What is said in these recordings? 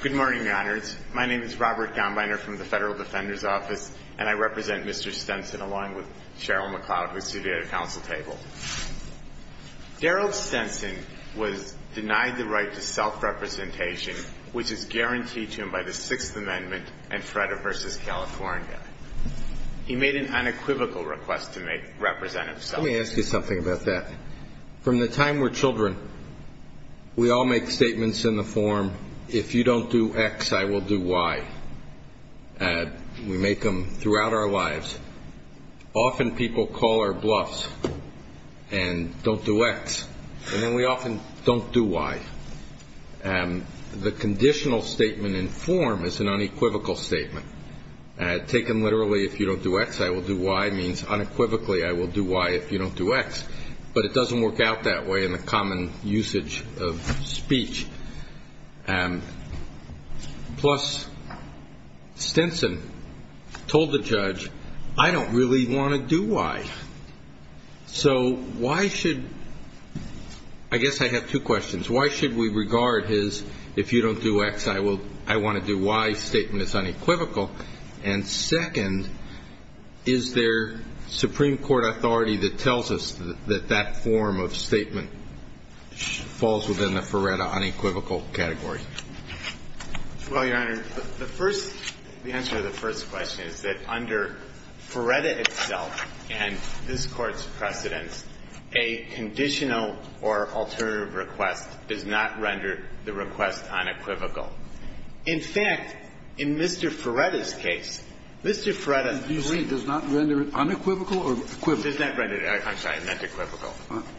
Good morning, Your Honors. My name is Robert Gombiner from the Federal Defender's Office, and I represent Mr. Stenson along with Cheryl McLeod, who is here at the Council table. Daryl Stenson was denied the right to self-representation, which is guaranteed to him by the Sixth Amendment and Freda v. California. He made an unequivocal request to represent himself. Let me ask you something about that. From the time we're children, we all make statements in the form, if you don't do X, I will do Y. We make them throughout our lives. Often people call our bluffs and don't do X, and we often don't do Y. The conditional statement in form is an unequivocal statement. And I take them literally, if you don't do X, I will do Y, means unequivocally I will do Y if you don't do X. But it doesn't work out that way in the common usage of speech. Plus, Stenson told the judge, I don't really want to do Y. So why should, I guess I have two questions. Why should we regard his, if you don't do X, I want to do Y statement as unequivocal? And second, is there Supreme Court authority that tells us that that form of statement falls within the Feretta unequivocal category? Well, Your Honor, the answer to the first question is that under Feretta itself and this Court's precedent, a conditional or alternative request does not render the request unequivocal. In fact, in Mr. Feretta's case, Mr. Feretta Does not render unequivocal or equivalent? Does not render, I'm sorry, unequivocal.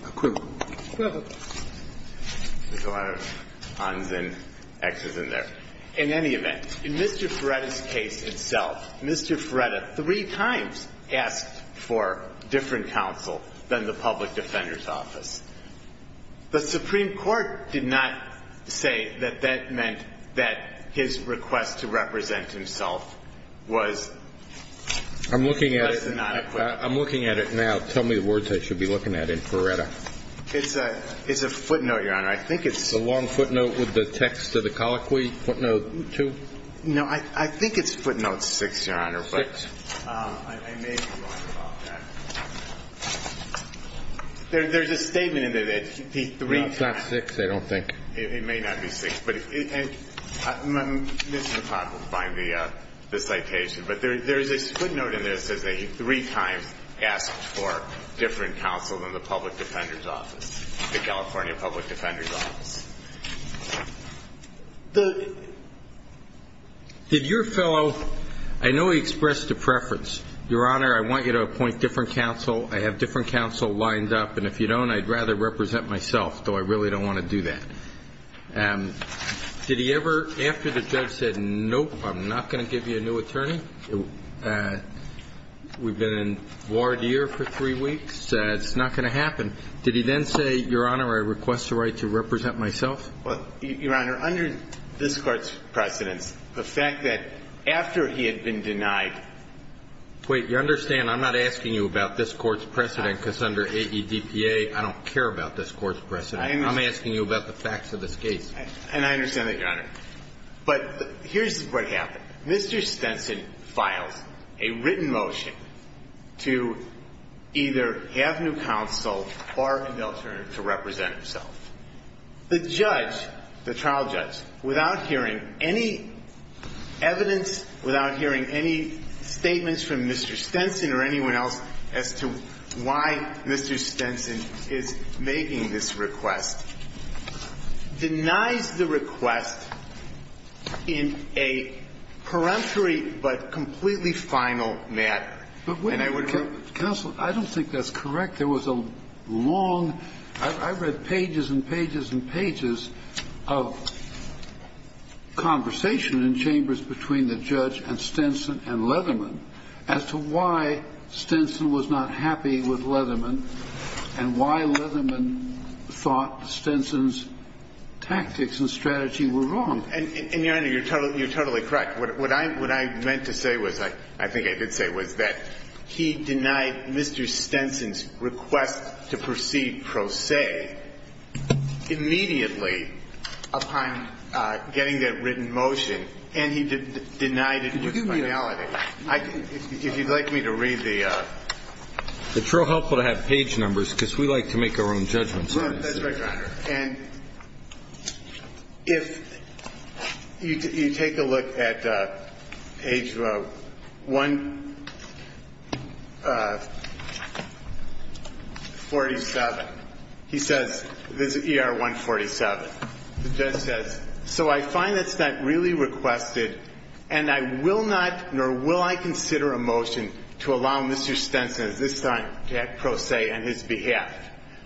Equivalent. Go ahead. There's a lot of uns and Xs in there. In any event, in Mr. Feretta's case itself, Mr. Feretta three times asked for different counsel than the public defender's office. The Supreme Court did not say that that meant that his request to represent himself was I'm looking at it now. Tell me the words I should be looking at in Feretta. It's a footnote, Your Honor. I think it's The long footnote with the text of the colloquy, footnote two? No, I think it's footnote six, Your Honor, but I may be wrong about that. There's a statement in there that he three times It's not footnote six, I don't think. It may not be footnote six. I'm just modifying the citation. But there's a footnote in there that says that he three times asked for different counsel than the public defender's office, the California public defender's office. Did your fellow, I know he expressed a preference. Your Honor, I want you to appoint different counsel. I have different counsel lined up, and if you don't, I'd rather represent myself, though I really don't want to do that. Did he ever, after the judge said, nope, I'm not going to give you a new attorney, we've been in voir dire for three weeks, it's not going to happen, did he then say, Your Honor, I request the right to represent myself? Your Honor, under this court's precedent, the fact that after he had been denied Wait, you understand I'm not asking you about this court's precedent, because under AEDPA, I don't care about this court's precedent. I'm asking you about the facts of the case. And I understand that, Your Honor. But here's what happened. Mr. Stenson filed a written motion to either have new counsel or an attorney to represent himself. The judge, the trial judge, without hearing any evidence, without hearing any statements from Mr. Stenson or anyone else as to why Mr. Stenson is making this request, denied the request in a peremptory but completely final manner. Counsel, I don't think that's correct. There was a long, I've read pages and pages and pages of conversation in chambers between the judge and Stenson and Leatherman as to why Stenson was not happy with Leatherman and why Leatherman thought Stenson's tactics and strategy were wrong. And, Your Honor, you're totally correct. What I meant to say was, I think I did say, was that he denied Mr. Stenson's request to proceed pro se immediately upon getting that written motion, and he denied it in finality. If you'd like me to read the... It's real helpful to have page numbers because we like to make our own judgments. That's right, Your Honor. And if you take a look at page one, page 147. He says, this is ER 147. The judge says, So I find this not really requested and I will not nor will I consider a motion to allow Mr. Stenson at this time to act pro se on his behalf.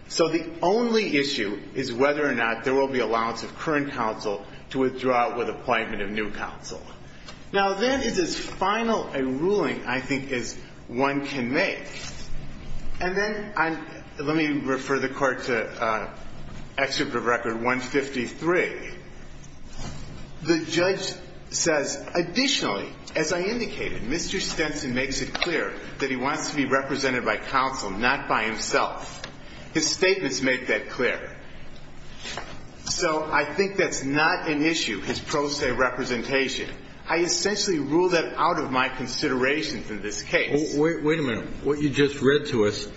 So the only issue is whether or not there will be allowance of current counsel to withdraw with appointment of new counsel. Now, then, in this final ruling, I think, is one can make. And then, let me refer the court to Executive Record 153. The judge says, additionally, as I indicated, Mr. Stenson made it clear that he wants to be represented by counsel, not by himself. His statements make that clear. So I think that's not an issue, his pro se representation. I essentially ruled that out of my considerations in this case. Wait a minute. What you just read to us,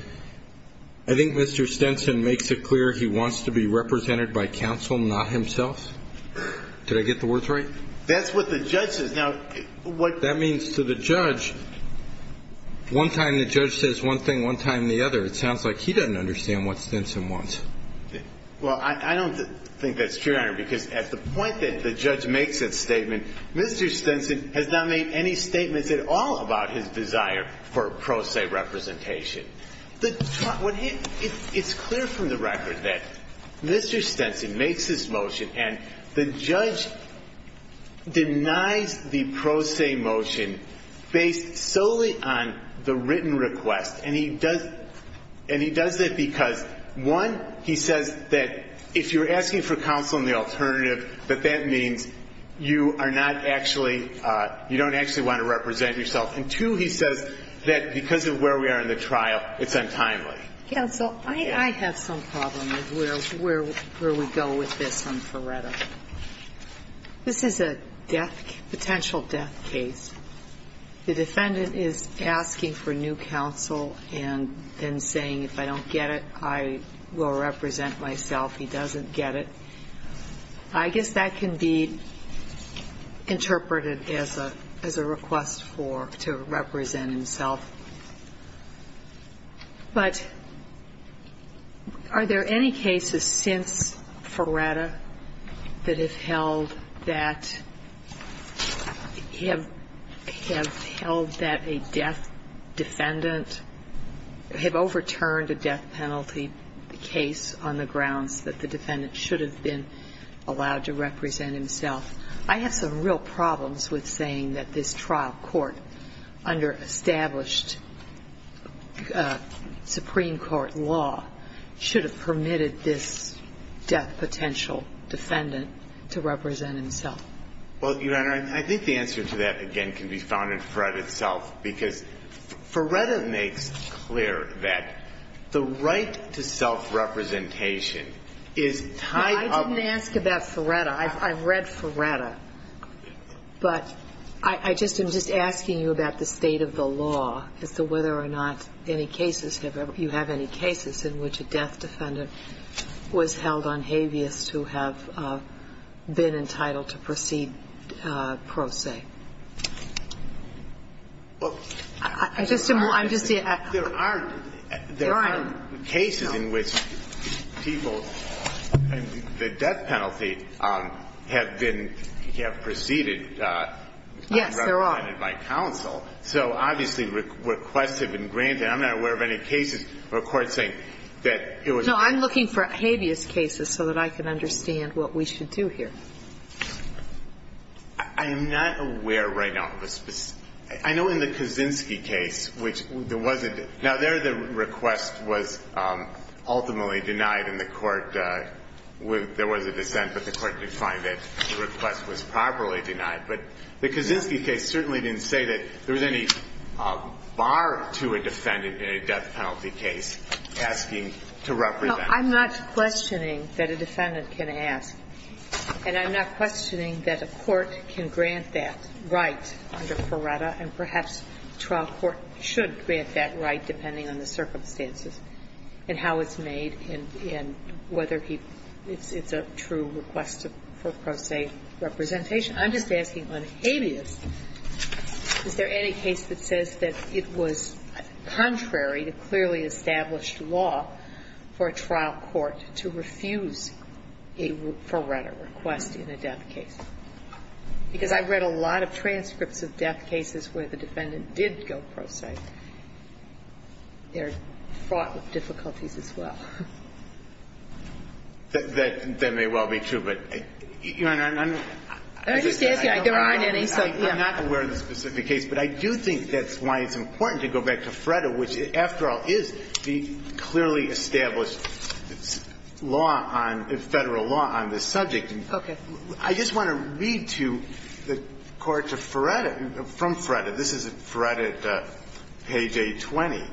I think Mr. Stenson makes it clear he wants to be represented by counsel, not himself? Did I get the words right? That's what the judge said. That means to the judge, one time the judge says one thing, one time the other. It sounds like he doesn't understand what Stenson wants. Well, I don't think that's true, Your Honor, because at the point that the judge makes that statement, Mr. Stenson has not made any statements at all about his desire for pro se representation. It's clear from the record that Mr. Stenson makes this motion and the judge denies the pro se motion based solely on the written request. And he does this because, one, he says that if you're asking for counsel and the alternative, that that means you are not actually, you don't actually want to represent yourself. And two, he says that because of where we are in the trial, it's untimely. Counsel, I have some problems with where we go with this on Coretta. This is a death, potential death case. The defendant is asking for new counsel and saying, if I don't get it, I will represent myself. He doesn't get it. I guess that can be interpreted as a request to represent himself. But are there any cases since Coretta that has held that a death defendant, have overturned a death penalty case on the grounds that the defendant should have been allowed to represent himself? I have some real problems with saying that this trial court under established Supreme Court law should have permitted this death potential defendant to represent himself. Well, Your Honor, I think the answer to that again can be found in Coretta itself because Coretta makes clear that the right to self-representation is tied up... I didn't ask about Coretta. I've read Coretta. But I'm just asking you about the state of the law as to whether or not you have any cases in which a death defendant was held on habeas to have been entitled to proceed pro se. Well... I'm just... There are cases in which people... the death penalty have been... have proceeded... Yes, there are. ...by counsel. So, obviously, requests have been granted. I'm not aware of any cases where a court thinks that it was... No, I'm looking for habeas cases so that I can understand what we should do here. I'm not aware right now of a specific... I know in the Kaczynski case, which there wasn't... Now, there, the request was ultimately denied, and there was a dissent, but the court did find that the request was properly denied. But the Kaczynski case certainly didn't say that there was any bar to a defendant in a death penalty case asking to represent... I'm not questioning that a defendant can ask. And I'm not questioning that a court can grant that right under Coretta, and perhaps a trial court should grant that right depending on the circumstances and how it's made and whether it's a true request for pro se representation. I'm just asking on habeas, is there any case that says that it was contrary to clearly established law for a trial court to refuse a Coretta request in a death case? Because I've read a lot of transcripts of death cases where the defendant did go pro se. They're fraught with difficulties as well. That may well be true, but... I'm just asking. I don't have any... I'm not aware of a specific case, but I do think that's why it's important to go back to Fretta, which, after all, is the clearly established federal law on this subject. I just want to read to the court from Fretta. This is Fretta, page 820.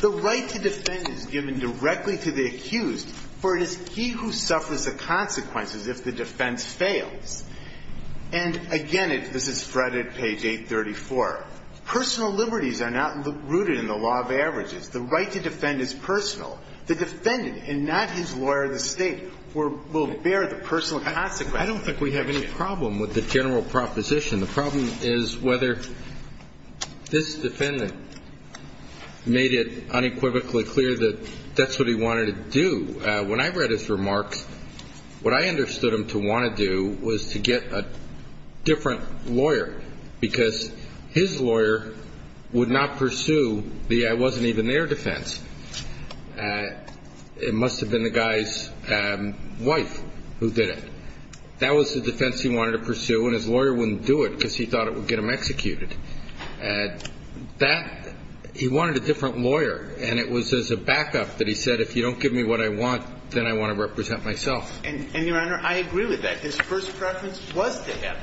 The right to defend is given directly to the accused, for it is he who suffers the consequences if the defense fails. And, again, this is Fretta, page 834. Personal liberties are not rooted in the law of averages. The right to defend is personal. The defendant, and not his lawyer of the state, will bear the personal consequences. I don't think we have any problem with the general proposition. The problem is whether this defendant made it unequivocally clear that that's what he wanted to do. When I read his remarks, what I understood him to want to do was to get a different lawyer, because his lawyer would not pursue the I wasn't even there defense. It must have been the guy's wife who did it. That was the defense he wanted to pursue, and his lawyer wouldn't do it because he thought it would get him executed. He wanted a different lawyer, and it was as a backup that he said, if you don't give me what I want, then I want to represent myself. And, Your Honor, I agree with that. His first preference was to get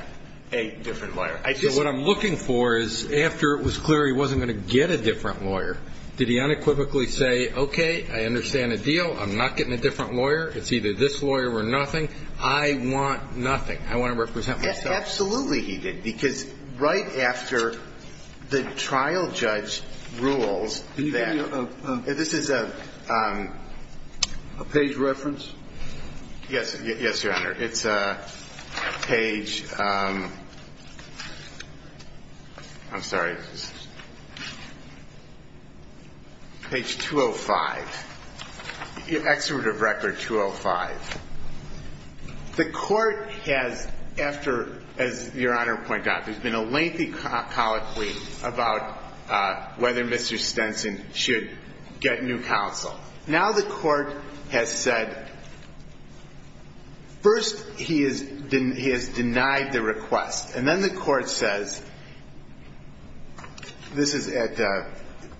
a different lawyer. So what I'm looking for is, after it was clear he wasn't going to get a different lawyer, did he unequivocally say, okay, I understand the deal. I'm not getting a different lawyer. It's either this lawyer or nothing. I want nothing. I want to represent myself. Absolutely he did, because right after the trial judge rules that. This is a page reference? Yes, Your Honor. It's page 205. Your extraditive record 205. The court has, after, as Your Honor pointed out, there's been a lengthy policy about whether Mr. Stenson should get new counsel. Now the court has said, first he has denied the request. And then the court says, this is at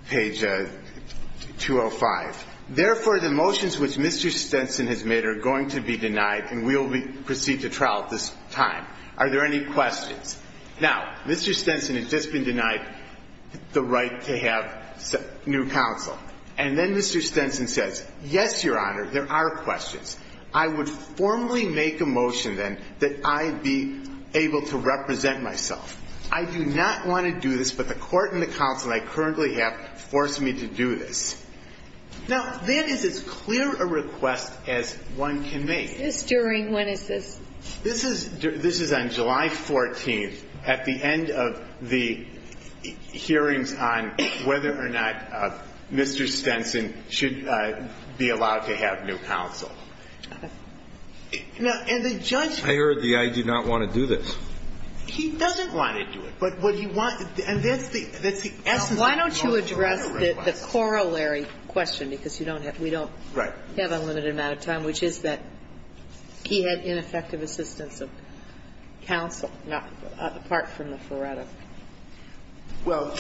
page 205, therefore the motions which Mr. Stenson has made are going to be denied, and we will proceed to trial at this time. Are there any questions? Now, Mr. Stenson has just been denied the right to have new counsel. And then Mr. Stenson says, yes, Your Honor, there are questions. I would formally make a motion then that I be able to represent myself. I do not want to do this, but the court and the counsel I currently have forced me to do this. Now, that is as clear a request as one can make. This is during when is this? This is on July 14th at the end of the hearing time, whether or not Mr. Stenson should be allowed to have new counsel. I heard the I do not want to do this. He doesn't want to do it. Why don't you address the corollary question, because we don't have unlimited amount of time, which is that he had ineffective assistance of counsel, apart from Miss Loretta. Well,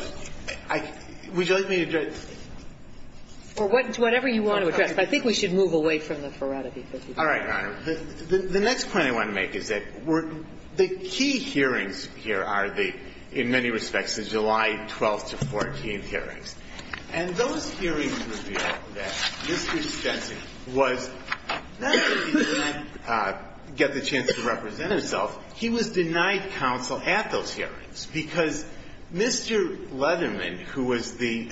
would you like me to address? Whatever you want to address. I think we should move away from Miss Loretta. All right, Your Honor. The next point I want to make is that the key hearings here are the, in many respects, the July 12th to 14th hearings. And those hearings revealed that Mr. Stenson was not able to get the chance to represent himself. He was denied counsel at those hearings because Mr. Leatherman, who was the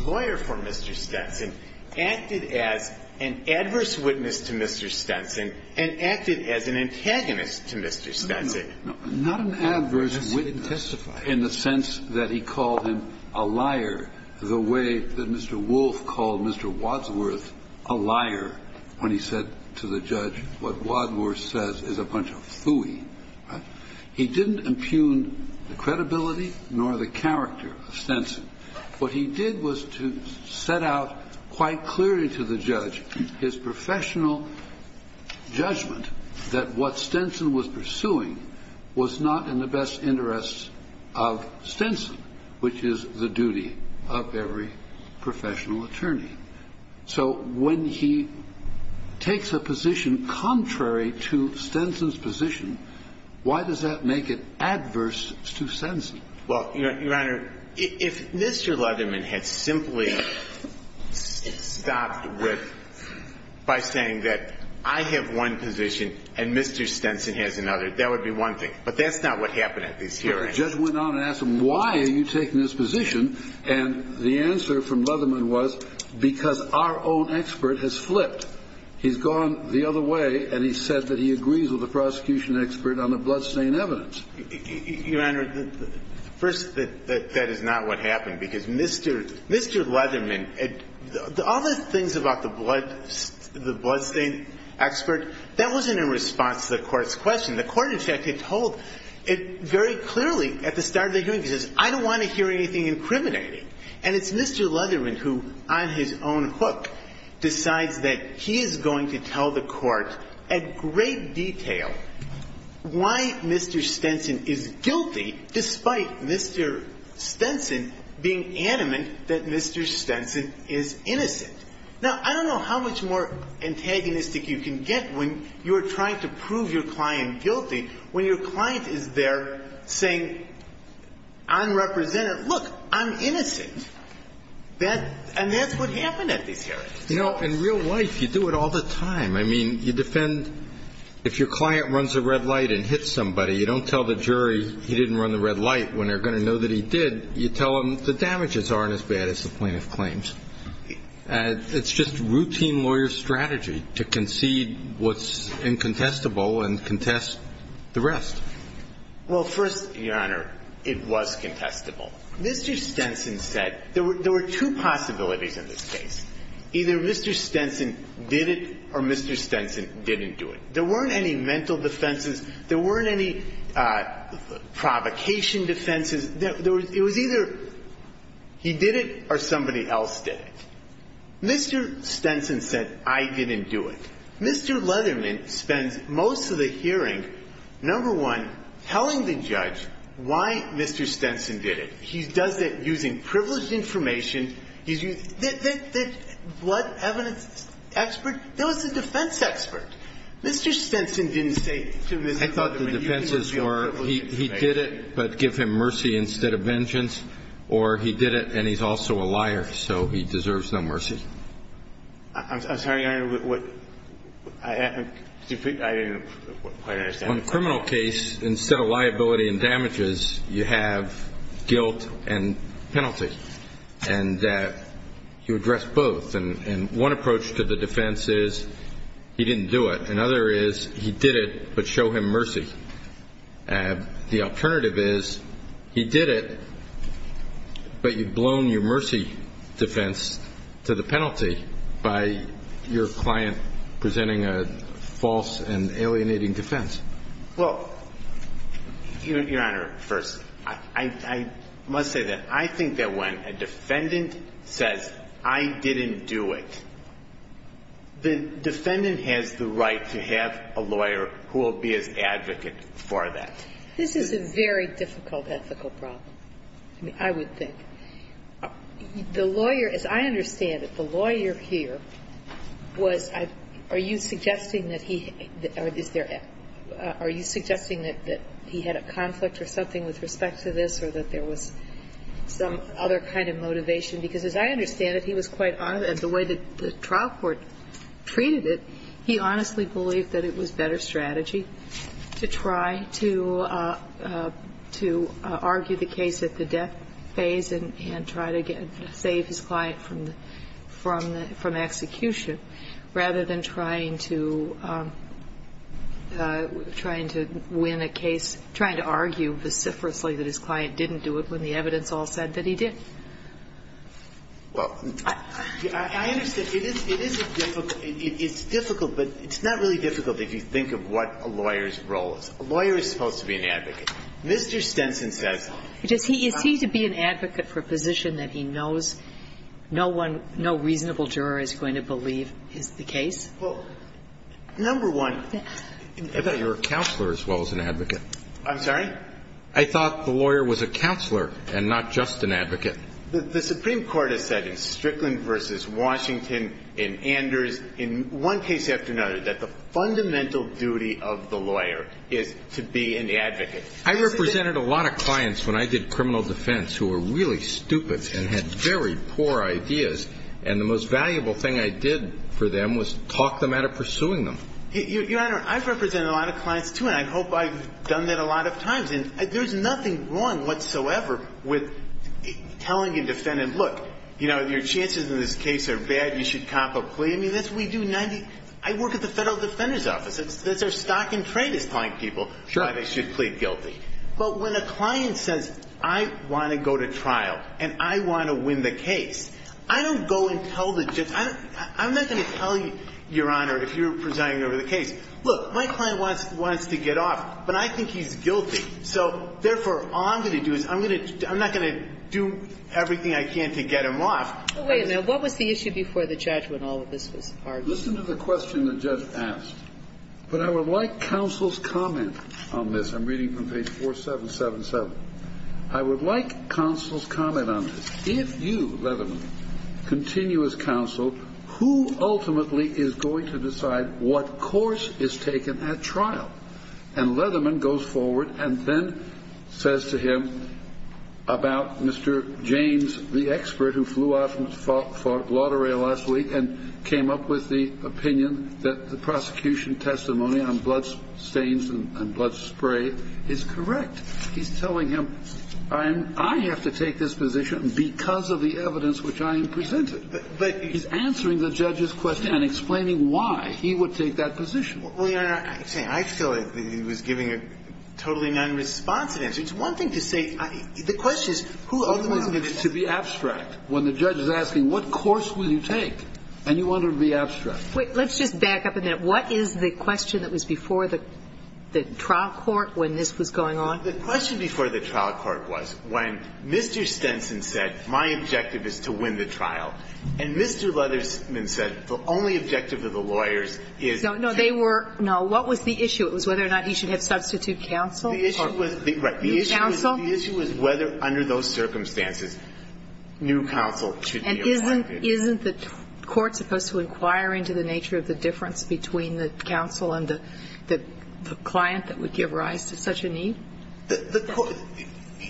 lawyer for Mr. Stenson, acted as an adverse witness to Mr. Stenson and acted as an antagonist to Mr. Stenson. Not an adverse witness in the sense that he called him a liar the way that Mr. Wolf called Mr. Wadsworth a liar when he said to the judge, what Wadsworth says is a bunch of phooey. He didn't impugn the credibility nor the character of Stenson. What he did was to set out quite clearly to the judge his professional judgment that what Stenson was pursuing was not in the best interests of Stenson, which is the duty of every professional attorney. So when he takes a position contrary to Stenson's position, why does that make it adverse to Stenson? Well, Your Honor, if Mr. Leatherman had simply stopped with, by saying that I have one position and Mr. Stenson has another, that would be one thing. But that's not what happened at these hearings. The judge went on and asked him, why are you taking this position? And the answer from Leatherman was, because our own expert has flipped. He's gone the other way and he said that he agrees with the prosecution expert on the bloodstain evidence. Your Honor, first, that is not what happened because Mr. Leatherman, all those things about the bloodstain expert, that wasn't in response to the court's question. The court, in fact, had told it very clearly at the start of the hearing, because I don't want to hear anything incriminating. And it's Mr. Leatherman who, on his own hook, decides that he is going to tell the court in great detail why Mr. Stenson is guilty, despite Mr. Stenson being adamant that Mr. Stenson is innocent. Now, I don't know how much more antagonistic you can get when you're trying to prove your client guilty when your client is there saying, unrepresentative, look, I'm innocent. And that's what happened at these hearings. You know, in real life, you do it all the time. I mean, you defend, if your client runs a red light and hits somebody, you don't tell the jury he didn't run the red light when they're going to know that he did. You tell them the damages aren't as bad as the plaintiff claims. It's just routine lawyer strategy to concede what's incontestable and contest the rest. Well, first, Your Honor, it was contestable. Mr. Stenson said there were two possibilities in this case. Either Mr. Stenson did it or Mr. Stenson didn't do it. There weren't any mental defenses. There weren't any provocation defenses. It was either he did it or somebody else did it. Mr. Stenson said, I didn't do it. Mr. Letterman spent most of the hearing, number one, telling the judge why Mr. Stenson did it. He does it using privileged information. He's a blood evidence expert. No, it's a defense expert. I thought the defenses were he did it, but give him mercy instead of vengeance, or he did it and he's also a liar, so he deserves some mercy. I'm sorry, Your Honor. On a criminal case, instead of liability and damages, you have guilt and penalty. And you address both. And one approach to the defense is he didn't do it. Another is he did it, but show him mercy. The alternative is he did it, but you've blown your mercy defense to the penalty by your client presenting a false and alienating defense. Well, Your Honor, first, I must say that I think that when a defendant says, I didn't do it, the defendant has the right to have a lawyer who will be an advocate for that. This is a very difficult ethical problem, I would think. The lawyer, as I understand it, the lawyer here was, are you suggesting that he had a conflict or something with respect to this or that there was some other kind of motivation? Because as I understand it, he was quite honest, and the way that the trial court treated it, he honestly believed that it was better strategy to try to argue the case at the death phase and try to save his client from execution rather than trying to win a case, trying to argue vociferously that his client didn't do it when the evidence all said that he did. Well, I understand. It is difficult, but it's not really difficult if you think of what a lawyer's role is. A lawyer is supposed to be an advocate. Mr. Stenson said... Does he need to be an advocate for a position that he knows no reasonable juror is going to believe is the case? Well, number one... I thought you were a counselor as well as an advocate. I'm sorry? I thought the lawyer was a counselor and not just an advocate. The Supreme Court has said in Strickland v. Washington and Anders, in one case after another, that the fundamental duty of the lawyer is to be an advocate. I represented a lot of clients when I did criminal defense who were really stupid and had very poor ideas, and the most valuable thing I did for them was talk them out of pursuing them. Your Honor, I've represented a lot of clients, too, and I hope I've done that a lot of times, and there's nothing wrong whatsoever with telling a defendant, look, your chances in this case are bad, you should comp or plead. I mean, that's what we do. I work at the Federal Defender's Office. They're stock and trade-applying people. They should plead guilty. But when a client says, I want to go to trial and I want to win the case, I don't go and tell the judge. I'm not going to tell you, Your Honor, if you're presenting me with a case. Look, my client wants to get off, but I think he's guilty, so therefore all I'm going to do is I'm not going to do everything I can to get him off. Wait a minute. What was the issue before the judge when all of this was discussed? Listen to the question the judge asked. But I would like counsel's comment on this. I'm reading from page 4777. I would like counsel's comment on this. If you, Leatherman, continue as counsel, who ultimately is going to decide what course is taken at trial? And Leatherman goes forward and then says to him about Mr. James, the expert who flew out and fought for Lotteria last week and came up with the opinion that the prosecution testimony on bloodstains and blood spray is correct. He's telling him, I have to take this position because of the evidence which I presented. But he's answering the judge's question and explaining why he would take that position. Well, Your Honor, I feel that he was giving a totally unanimous response to this. It's one thing to say the question is who ultimately is going to decide. I want it to be abstract. When the judge is asking what course will you take, and you want it to be abstract. Wait. Let's just back up a minute. What is the question that was before the trial court when this was going on? The question before the trial court was when Mr. Stenson said, my objective is to win the trial. And Mr. Leatherman said, the only objective of the lawyers is to win the trial. No, what was the issue? It was whether or not he should have substitute counsel? The issue was whether under those circumstances new counsel should be elected. Isn't the court supposed to inquire into the nature of the difference between the counsel and the client that would give rise to such a need?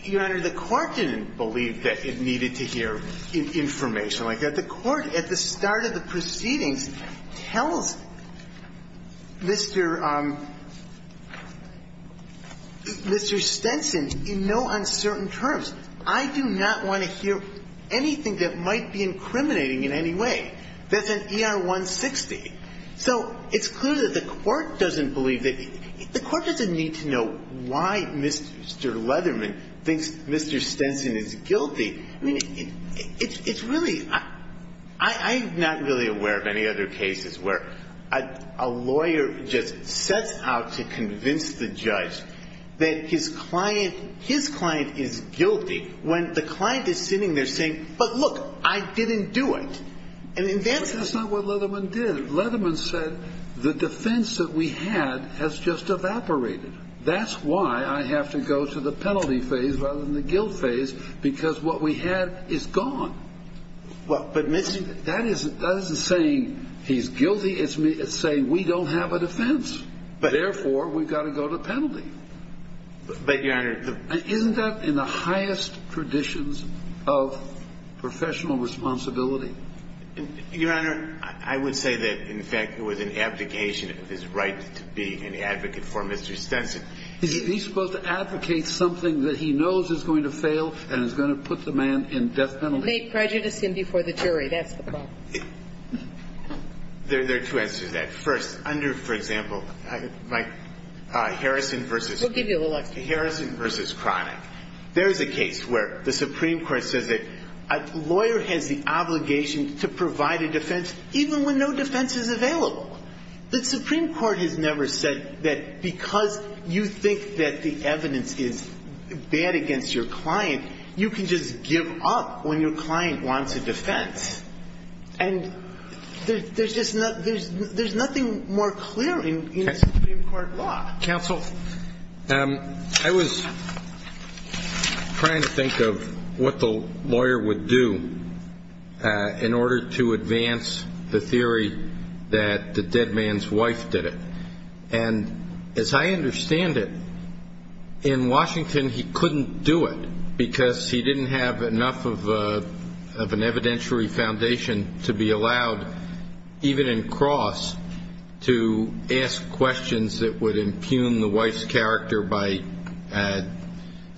Your Honor, the court didn't believe that it needed to hear information like that. The court at the start of the proceeding tells Mr. Stenson in no uncertain terms, I do not want to hear anything that might be incriminating in any way. That's an ER-160. So it's clear that the court doesn't believe it. The court doesn't need to know why Mr. Leatherman thinks Mr. Stenson is guilty. I'm not really aware of any other cases where a lawyer just sets out to convince the judge that his client is guilty when the client is sitting there saying, but look, I didn't do it. That's not what Leatherman did. Leatherman said the defense that we had has just evaporated. That's why I have to go to the penalty phase rather than the guilt phase because what we had is gone. That isn't saying he's guilty. It's saying we don't have a defense. Therefore, we've got to go to penalty. I end up in the highest traditions of professional responsibility. Your Honor, I would say that, in fact, it was an abdication of his right to be an advocate for Mr. Stenson. He's supposed to advocate something that he knows is going to fail and is going to put the man in death penalty. Plead prejudice before the jury, that's the problem. There are two answers to that. First, under, for example, Harrison v. Cryer, there's a case where the Supreme Court said that a lawyer has the obligation to provide a defense even when no defense is available. The Supreme Court has never said that because you think that the evidence is bad against your client, and there's nothing more clear in court law. Counsel, I was trying to think of what the lawyer would do in order to advance the theory that the dead man's wife did it. As I understand it, in Washington he couldn't do it because he didn't have enough of an evidentiary foundation to be allowed, even in cross, to ask questions that would impugn the wife's character by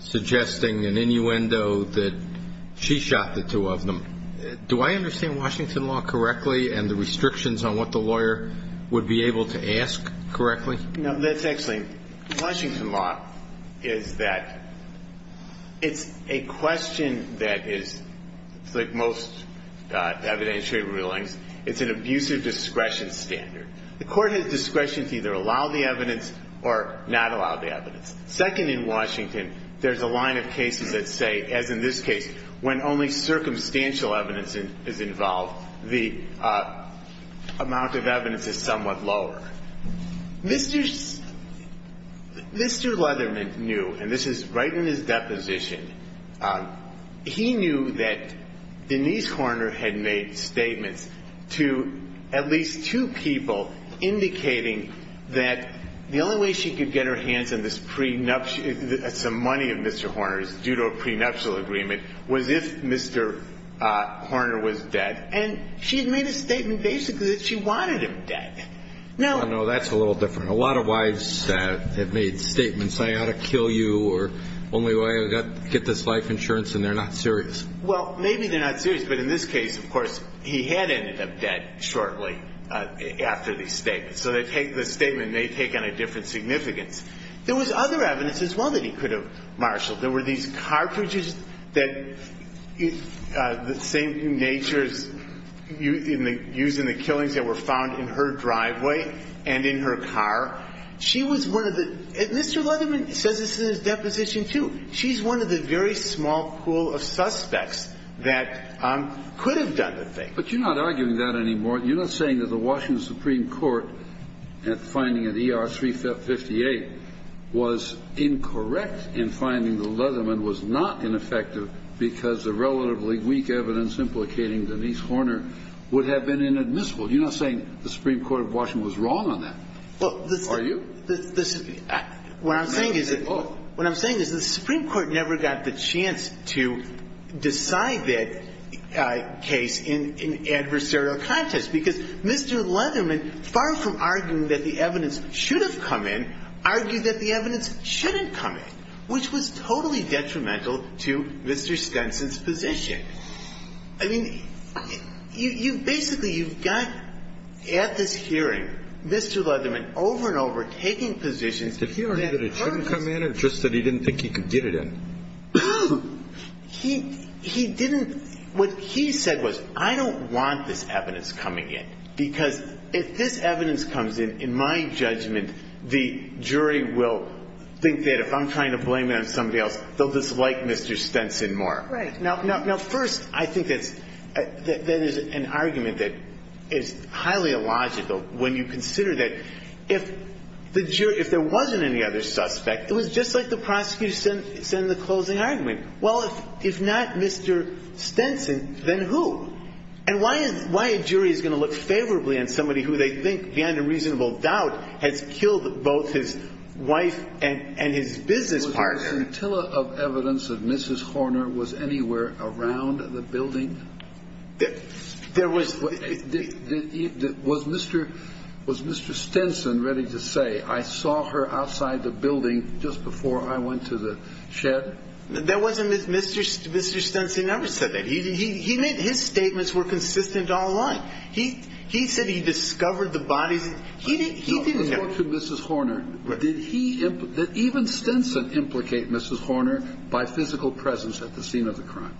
suggesting in innuendo that she shot the two of them. Do I understand Washington law correctly and the restrictions on what the lawyer would be able to ask correctly? Let's explain. Washington law is that it's a question that is, like most evidentiary rulings, it's an abusive discretion standard. The court has discretion to either allow the evidence or not allow the evidence. Second, in Washington, there's a line of cases that say, as in this case, when only circumstantial evidence is involved, the amount of evidence is somewhat lower. Mr. Lunderman knew, and this is right in his deposition, he knew that Denise Horner had made statements to at least two people indicating that the only way she could get her hands on the money of Mr. Horner due to a prenuptial agreement was if Mr. Horner was dead, and she made a statement basically that she wanted him dead. I don't know. That's a little different. A lot of wives have made statements, I ought to kill you or the only way I get this life insurance, and they're not serious. Well, maybe they're not serious, but in this case, of course, he had ended up dead shortly after these statements, so the statement may have taken a different significance. There was other evidence as well that he could have marshaled. There were these cartridges that is the same in nature used in the killings that were found in her driveway and in her car. She was one of the, and Mr. Lunderman says this in his deposition too, she's one of the very small pool of suspects that could have done the thing. But you're not arguing that anymore. You're not saying that the Washington Supreme Court, at the finding of ER 358, was incorrect in finding that Lunderman was not ineffective because the relatively weak evidence implicating Denise Horner would have been inadmissible. You're not saying the Supreme Court of Washington was wrong on that. Are you? What I'm saying is the Supreme Court never got the chance to decide that case in adversarial context because Mr. Lunderman, far from arguing that the evidence should have come in, argued that the evidence shouldn't come in, which was totally detrimental to Mr. Stenson's position. I mean, basically you've got, at this hearing, Mr. Lunderman over and over taking positions that... He didn't think he could get it in. He didn't, what he said was, I don't want this evidence coming in because if this evidence comes in, in my judgment, the jury will think that if I'm trying to blame it on somebody else, they'll dislike Mr. Stenson more. Right. Now, first, I think that there's an argument that is highly illogical when you consider that if there wasn't any other subject, it was just like the prosecution said in the closing argument. Well, if not Mr. Stenson, then who? And why a jury is going to look favorably on somebody who they think beyond a reasonable doubt has killed both his wife and his business partner. Was there a scintilla of evidence of Mrs. Horner was anywhere around the building? There was. Was Mr. Stenson ready to say, I saw her outside the building just before I went to the shed? Mr. Stenson never said that. His statements were consistent all along. He said he discovered the body. He didn't know. In the case of Mrs. Horner, did even Stenson implicate Mrs. Horner by physical presence at the scene of the crime?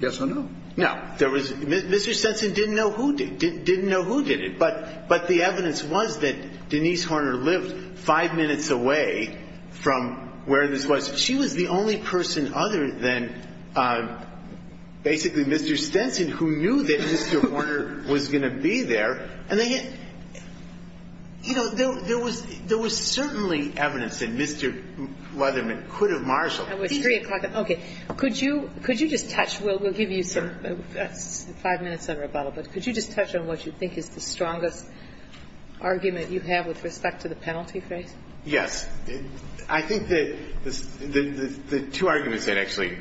Yes or no? No. Mr. Stenson didn't know who did it. But the evidence was that Denise Horner lived five minutes away from where this was. She was the only person other than basically Mr. Stenson who knew that Mr. Horner was going to be there. And there was certainly evidence that Mr. Leatherman could have marshaled her. Okay. Could you just touch on what you think is the strongest argument you have with respect to the penalty case? Yes. I think there's two arguments, actually,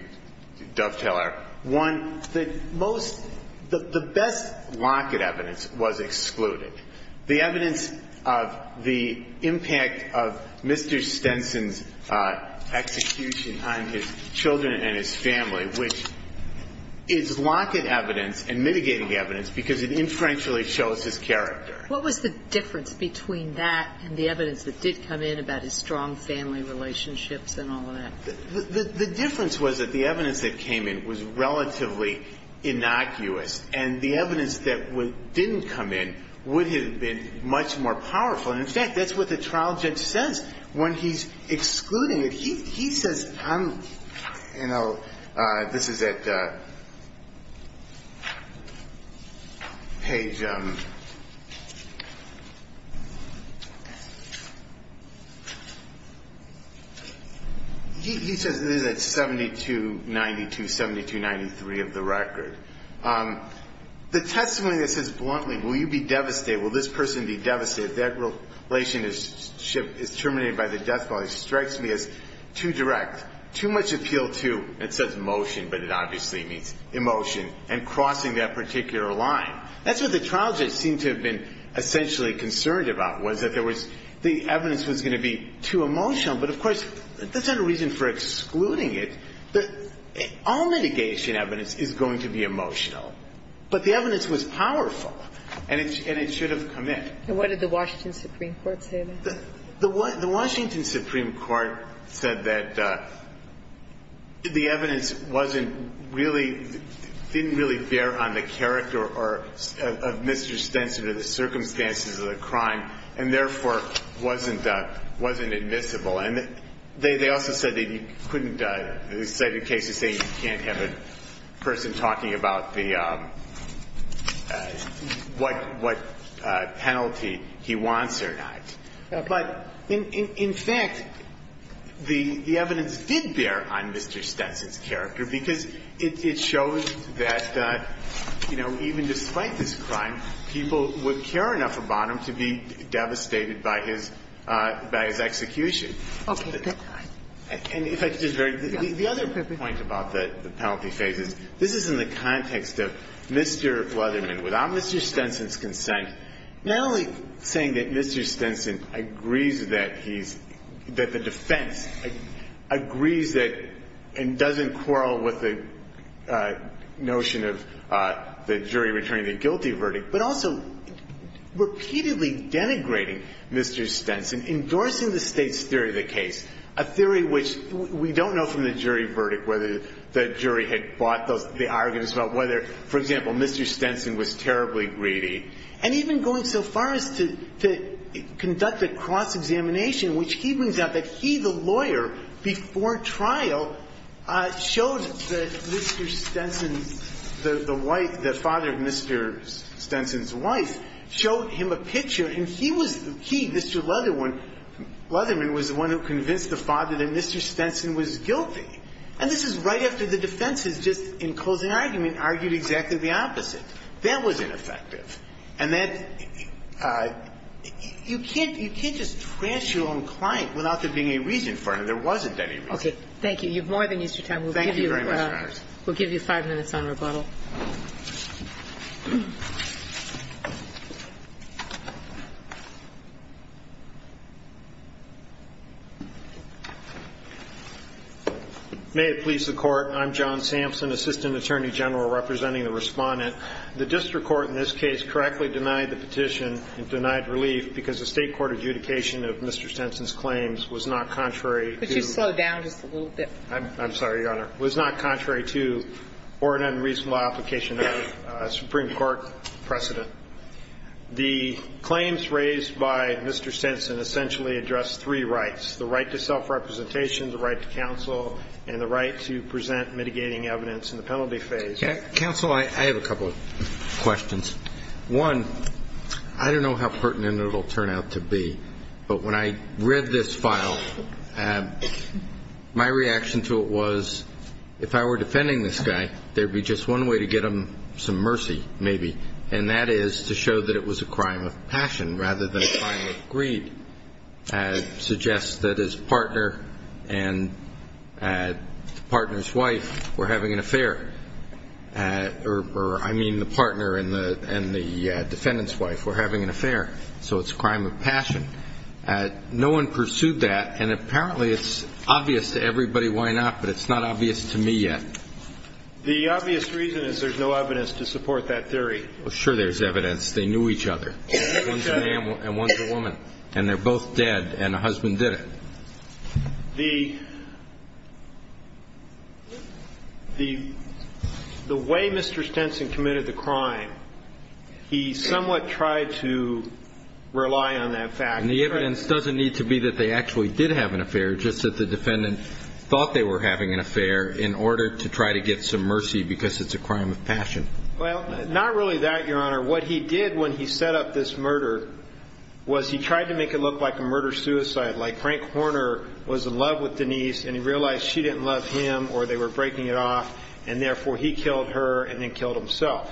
Dovetailer. One, the best locket evidence was excluded. The evidence of the impact of Mr. Stenson's execution on his children and his family, which is locket evidence and mitigating evidence because it inferentially shows his character. What was the difference between that and the evidence that did come in about his strong family relationships and all that? The difference was that the evidence that came in was relatively innocuous, and the evidence that didn't come in would have been much more powerful. And, in fact, that's what the trial judge says when he's excluding it. He says probably, you know, this is at page, he says this is at 7292, 7293 of the record. The testimony that says bluntly, will you be devastated, will this person be devastated, that relationship is terminated by the death penalty, strikes me as too direct, too much appeal to, it says motion, but it obviously means emotion, and crossing that particular line. That's what the trial judge seemed to have been essentially concerned about, was that the evidence was going to be too emotional. But, of course, there's no reason for excluding it. All mitigation evidence is going to be emotional, but the evidence was powerful, and it should have come in. And what did the Washington Supreme Court say? The Washington Supreme Court said that the evidence wasn't really, didn't really bear on the character of Mr. Stenson or the circumstances of the crime, and, therefore, wasn't admissible. And they also said that you couldn't, they said in case of saying you can't have a person talking about what penalty he wants or not. But, in fact, the evidence did bear on Mr. Stenson's character, because it shows that, you know, even despite this crime, people would care enough about him to be devastated by his execution. Okay, that's fine. And if I could just add, the other point about the penalty phase is, this is in the context of Mr. Wetherman. Without Mr. Stenson's consent, the only thing that Mr. Stenson agrees that he's, that the defense agrees that and doesn't quarrel with the notion of the jury returning the guilty verdict, but also repeatedly denigrating Mr. Stenson, endorsing the state's theory of the case, a theory which we don't know from the jury verdict whether the jury had fought the arguments about whether, for example, Mr. Stenson was terribly greedy, and even going so far as to conduct a cross-examination, which even got that he, the lawyer, before trial, showed Mr. Stenson, the wife, the father of Mr. Stenson's wife, showed him a picture, and he was, he, Mr. Wetherman, Wetherman was the one who convinced the father that Mr. Stenson was guilty. And this was right after the defense had just, in closing argument, argued exactly the opposite. That was ineffective. And that, you can't, you can't just trash your own client without there being a reason for it. There wasn't any reason. Okay. Thank you. You've more than used your time. Thank you very much. We'll give you five minutes on rebuttal. May it please the Court. I'm John Sampson, Assistant Attorney General representing the Respondent. The district court in this case correctly denied the petition and denied relief because the state court adjudication of Mr. Stenson's claims was not contrary to Could you slow down just a little bit? I'm sorry, Your Honor. Was not contrary to or an unreasonable application of a Supreme Court precedent. The claims raised by Mr. Stenson essentially addressed three rights. The right to self-representation, the right to counsel, and the right to present mitigating evidence in the penalty phase. Counsel, I have a couple of questions. One, I don't know how pertinent it will turn out to be, but when I read this file, my reaction to it was, if I were defending this guy, there would be just one way to get him some mercy, maybe, and that is to show that it was a crime of passion rather than a crime of greed. It suggests that his partner and the partner's wife were having an affair, or I mean the partner and the defendant's wife were having an affair, so it's a crime of passion. No one pursued that, and apparently it's obvious to everybody why not, but it's not obvious to me yet. The obvious reason is there's no evidence to support that theory. Well, sure there's evidence. They knew each other. One's a man and one's a woman, and they're both dead, and the husband did it. The way Mr. Stenson committed the crime, he somewhat tried to rely on that fact. And the evidence doesn't need to be that they actually did have an affair, just that the defendant thought they were having an affair in order to try to get some mercy because it's a crime of passion. Well, not really that, Your Honor. What he did when he set up this murder was he tried to make it look like a murder-suicide, like Frank Horner was in love with Denise and he realized she didn't love him or they were breaking it off, and therefore he killed her and then killed himself.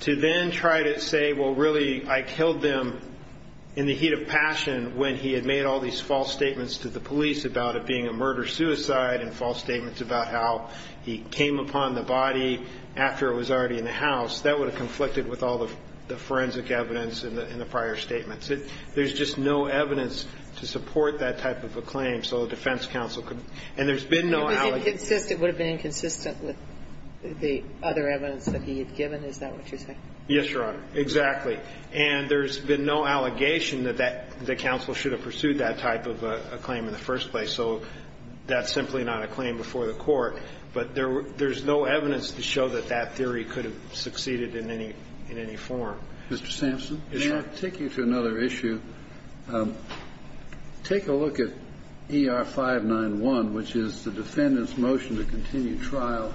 To then try to say, well, really I killed them in the heat of passion when he had made all these false statements to the police about it being a murder-suicide and false statements about how he came upon the body after it was already in the house, that would have conflicted with all the forensic evidence in the prior statements. There's just no evidence to support that type of a claim, so a defense counsel could... And there's been no... It would have been inconsistent with the other evidence that he has given, is that what you're saying? Yes, Your Honor, exactly. And there's been no allegation that the counsel should have pursued that type of a claim in the first place, so that's simply not a claim before the court. But there's no evidence to show that that theory could have succeeded in any form. Mr. Stinson, can I take you to another issue? Take a look at ER-591, which is the defendant's motion to continue trial,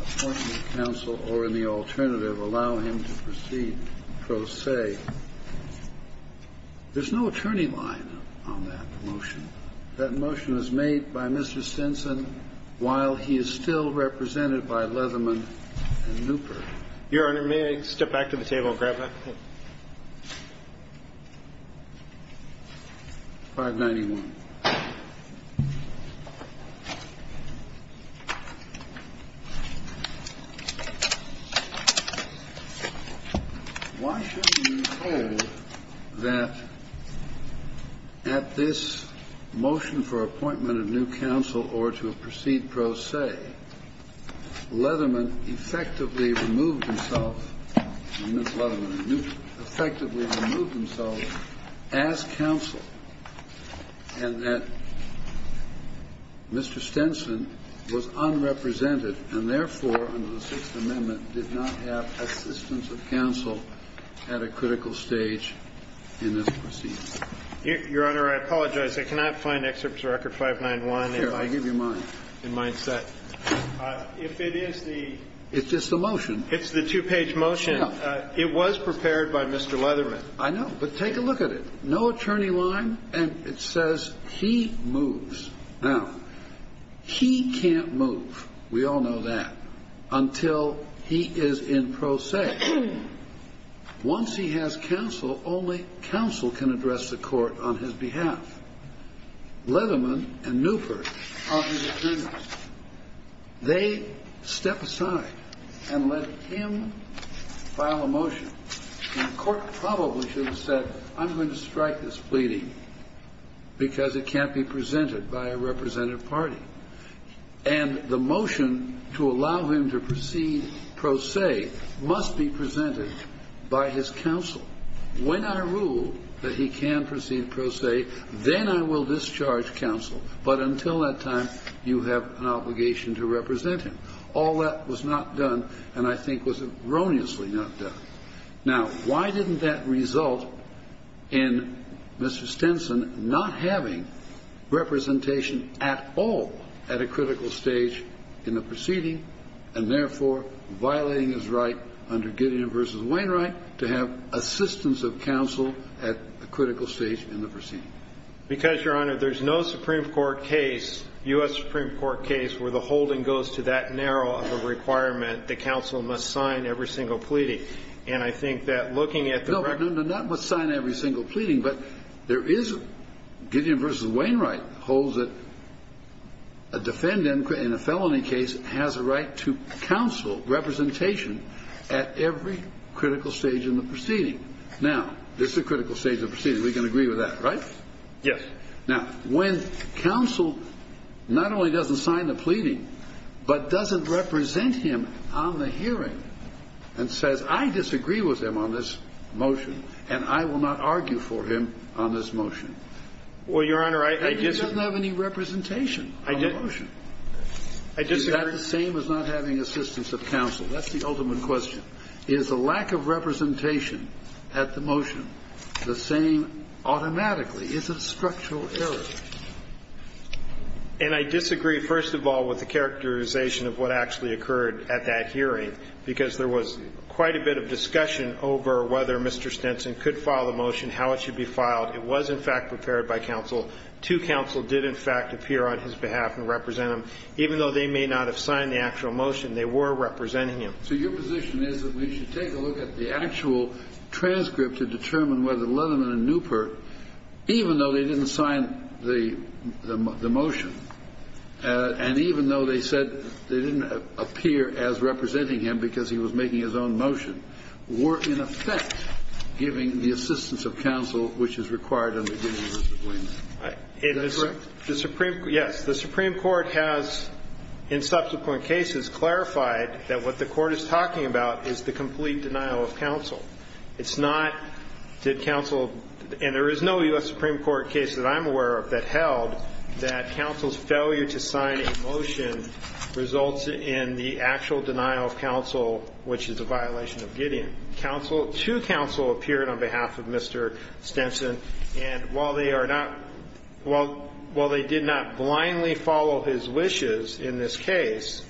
appoint him to counsel or, in the alternative, allow him to proceed pro se. There's no attorney line on that motion. That motion was made by Mr. Stinson while he is still represented by Leatherman and Luper. Your Honor, may I step back to the table and grab that? 591. 591. Why shouldn't we say that at this motion for appointment of new counsel or to proceed pro se, Leatherman effectively removed himself as counsel and that Mr. Stinson was unrepresented and, therefore, under the Sixth Amendment, did not have assistance of counsel at a critical stage in this proceed. Your Honor, I apologize. I cannot find excerpts of Record 591. Here, I'll give you mine. It's just a motion. It's the two-page motion. It was prepared by Mr. Leatherman. I know, but take a look at it. No attorney line, and it says he moves. Now, he can't move, we all know that, until he is in pro se. Once he has counsel, only counsel can address the court on his behalf. Leatherman and Luper are his attorneys. They step aside and let him file a motion. And the court probably should have said, I'm going to strike this pleading because it can't be presented by a representative party. And the motion to allow him to proceed pro se must be presented by his counsel. When I rule that he can proceed pro se, then I will discharge counsel. But until that time, you have an obligation to represent him. All that was not done, and I think was erroneously not done. Now, why didn't that result in Mr. Stinson not having representation at all at a critical stage in the proceeding, and therefore violating his right under Gideon v. Wainwright to have assistance of counsel at a critical stage in the proceeding? Because, Your Honor, there's no Supreme Court case, U.S. Supreme Court case, where the holding goes to that narrow of a requirement that counsel must sign every single pleading. And I think that looking at the record... No, no, no, not must sign every single pleading, but there is Gideon v. Wainwright holds that a defendant in a felony case has a right to counsel representation at every critical stage in the proceeding. Now, this is a critical stage in the proceeding. We can agree with that, right? Yes. Now, when counsel not only doesn't sign the pleading, but doesn't represent him on the hearing, and says, I disagree with him on this motion, and I will not argue for him on this motion. Well, Your Honor, I disagree. He doesn't have any representation on the motion. He's got the same as not having assistance of counsel. That's the ultimate question. Is the lack of representation at the motion the same automatically? It's a structural error. And I disagree, first of all, with the characterization of what actually occurred at that hearing, because there was quite a bit of discussion over whether Mr. Stinson could file a motion, how it should be filed. It was, in fact, prepared by counsel. Two counsel did, in fact, appear on his behalf and represent him. Even though they may not have signed the actual motion, they were representing him. So your position is that we should take a look at the actual transcript to determine whether Leatherman and Newkirk, even though they didn't sign the motion, and even though they said they didn't appear as representing him because he was making his own motion, were, in effect, giving the assistance of counsel which is required under the U.S. Supreme Court. Yes, the Supreme Court has, in subsequent cases, clarified that what the court is talking about is the complete denial of counsel. It's not that counsel, and there is no U.S. Supreme Court case that I'm aware of that held that counsel's failure to sign a motion results in the actual denial of counsel, which is a violation of Gideon. Two counsel appeared on behalf of Mr. Stinson, and while they did not blindly follow his wishes in this case,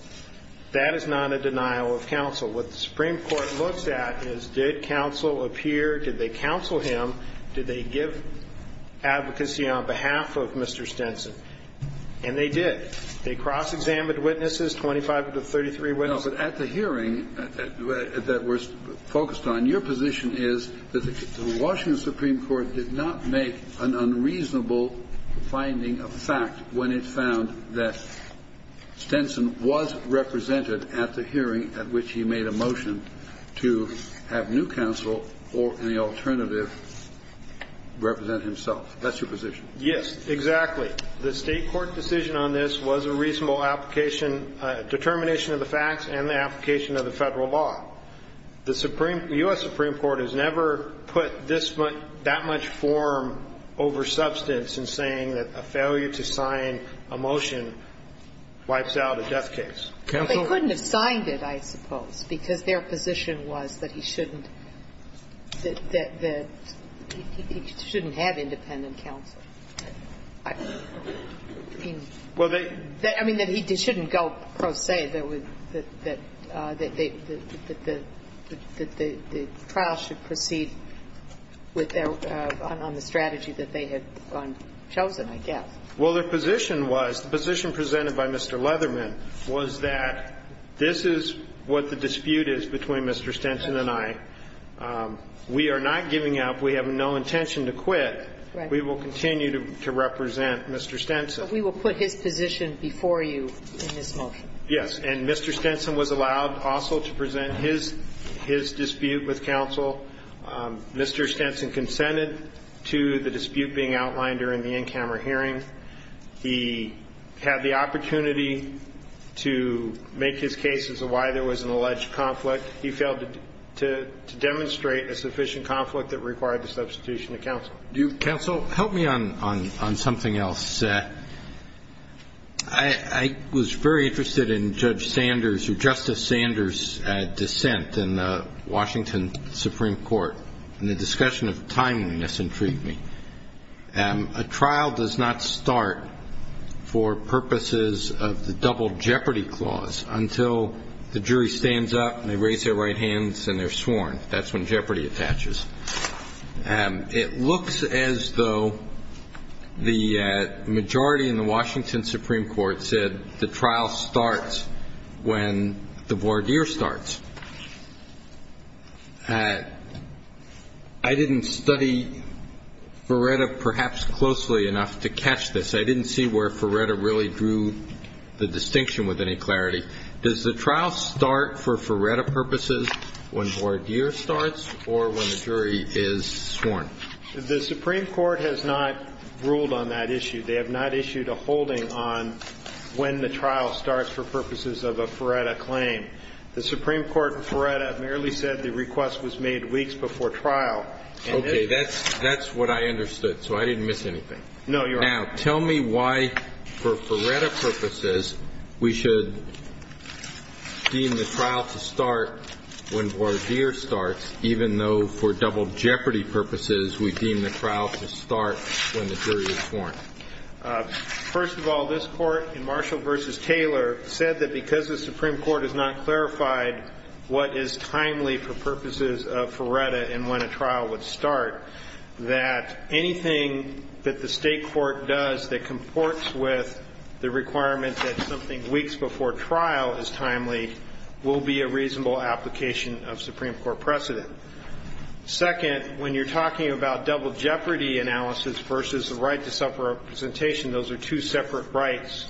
that is not a denial of counsel. What the Supreme Court looks at is did counsel appear, did they counsel him, did they give advocacy on behalf of Mr. Stinson? And they did. They cross-examined witnesses, 25 to 33 witnesses. No, but at the hearing that we're focused on, your position is that the Washington Supreme Court did not make an unreasonable finding of fact when it found that Stinson was represented at the hearing at which he made a motion to have new counsel or any alternative represent himself. That's your position. Yes, exactly. The state court decision on this was a reasonable determination of the facts and the application of the federal law. The U.S. Supreme Court has never put that much form over substance in saying that a failure to sign a motion wipes out a death case. They couldn't have signed it, I suppose, because their position was that he shouldn't have independent counsel. I mean, they shouldn't go pro se, that the trial should proceed on the strategy that they had chosen, I guess. Well, the position presented by Mr. Leatherman was that this is what the dispute is between Mr. Stinson and I. We are not giving up. We have no intention to quit. We will continue to represent Mr. Stinson. But we will put his position before you in this motion. Yes, and Mr. Stinson was allowed also to present his dispute with counsel. Mr. Stinson consented to the dispute being outlined during the in-camera hearing. He had the opportunity to make his case as to why there was an alleged conflict. He failed to demonstrate a sufficient conflict that required the substitution of counsel. Counsel, help me on something else. I was very interested in Justice Sanders' dissent in the Washington Supreme Court and the discussion of timing. This intrigued me. A trial does not start for purposes of the double jeopardy clause until the jury stands up, they raise their right hands, and they're sworn. That's when jeopardy attaches. It looks as though the majority in the Washington Supreme Court said the trial starts when the voir dire starts. I didn't study Ferretta perhaps closely enough to catch this. I didn't see where Ferretta really drew the distinction with any clarity. Does the trial start for Ferretta purposes when voir dire starts or when the jury is sworn? The Supreme Court has not ruled on that issue. They have not issued a holding on when the trial starts for purposes of a Ferretta claim. The Supreme Court in Ferretta merely said the request was made weeks before trial. Okay, that's what I understood, so I didn't miss anything. No, you're right. Now, tell me why for Ferretta purposes we should deem the trial to start when voir dire starts, even though for double jeopardy purposes we deem the trial to start when the jury is sworn. First of all, this Court in Marshall v. Taylor said that because the Supreme Court has not clarified what is timely for purposes of Ferretta and when a trial would start, that anything that the state court does that comports with the requirement that something weeks before trial is timely will be a reasonable application of Supreme Court precedent. Second, when you're talking about double jeopardy analysis versus the right to self-representation, those are two separate rights,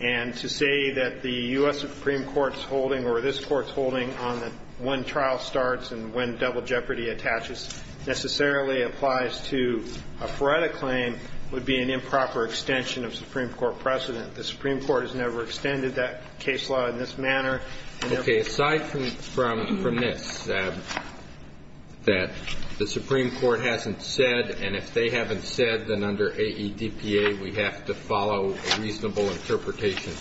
and to say that the U.S. Supreme Court is holding or this Court is holding on when trial starts and when double jeopardy attaches necessarily applies to a Ferretta claim would be an improper extension of Supreme Court precedent. The Supreme Court has never extended that case law in this manner. Okay, aside from this, that the Supreme Court hasn't said, and if they haven't said, then under AEDPA we have to follow a reasonable interpretation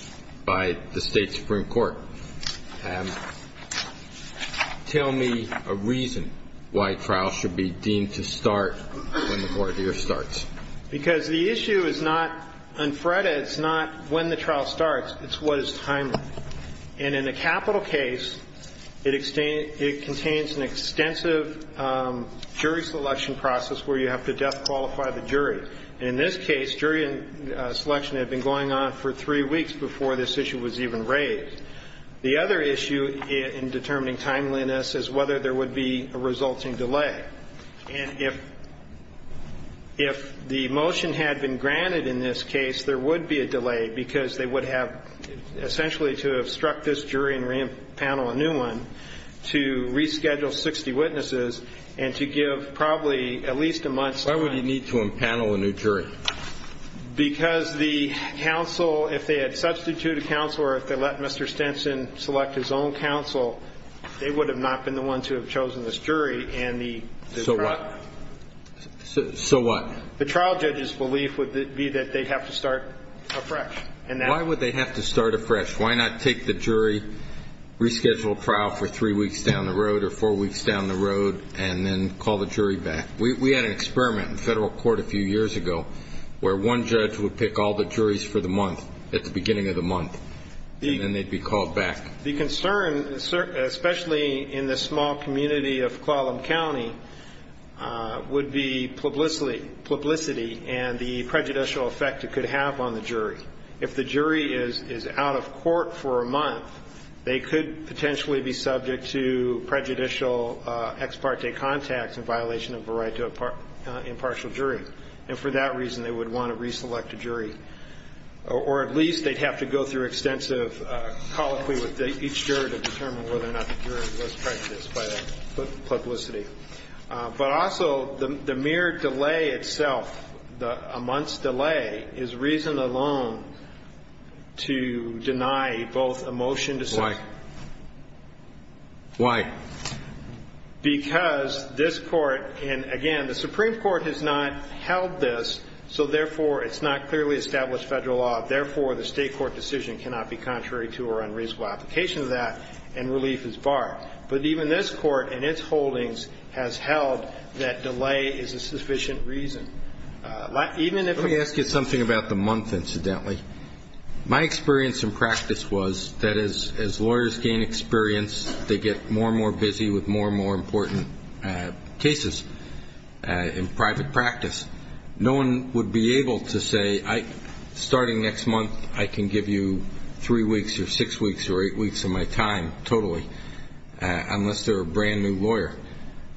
by the state Supreme Court. Tell me a reason why a trial should be deemed to start when the voir dire starts. Because the issue is not on Ferretta, it's not when the trial starts, it's what is timely. And in the capital case, it contains an extensive jury selection process where you have to death qualify the jury. In this case, jury selection had been going on for three weeks before this issue was even raised. The other issue in determining timeliness is whether there would be a resulting delay. And if the motion had been granted in this case, there would be a delay, because they would have essentially to obstruct this jury and re-impanel a new one to reschedule 60 witnesses and to give probably at least a month's time. Why would he need to impanel a new jury? Because the counsel, if they had substituted counsel or if they let Mr. Stinson select his own counsel, they would have not been the ones who have chosen this jury. So what? So what? The trial judge's belief would be that they have to start afresh. Why would they have to start afresh? Why not take the jury, reschedule trial for three weeks down the road or four weeks down the road, and then call the jury back? We had an experiment in federal court a few years ago where one judge would pick all the juries for the month, at the beginning of the month, and then they'd be called back. The concern, especially in the small community of Kuala Lumpur County, would be publicity and the prejudicial effect it could have on the jury. If the jury is out of court for a month, they could potentially be subject to prejudicial ex parte contact in violation of the right to impartial jury. And for that reason, they would want to reselect a jury. Or at least they'd have to go through extensive colloquy with each jury to determine whether or not the jury was prejudiced by that publicity. But also, the mere delay itself, a month's delay, is reason alone to deny both a motion to select. Why? Why? Therefore, the state court decision cannot be contrary to or unreasonable application of that, and relief is barred. But even this court, in its holdings, has held that delay is a sufficient reason. Let me ask you something about the month, incidentally. My experience in practice was that as lawyers gain experience, they get more and more busy with more and more important cases in private practice. No one would be able to say, starting next month, I can give you three weeks or six weeks or eight weeks of my time, totally, unless they're a brand new lawyer.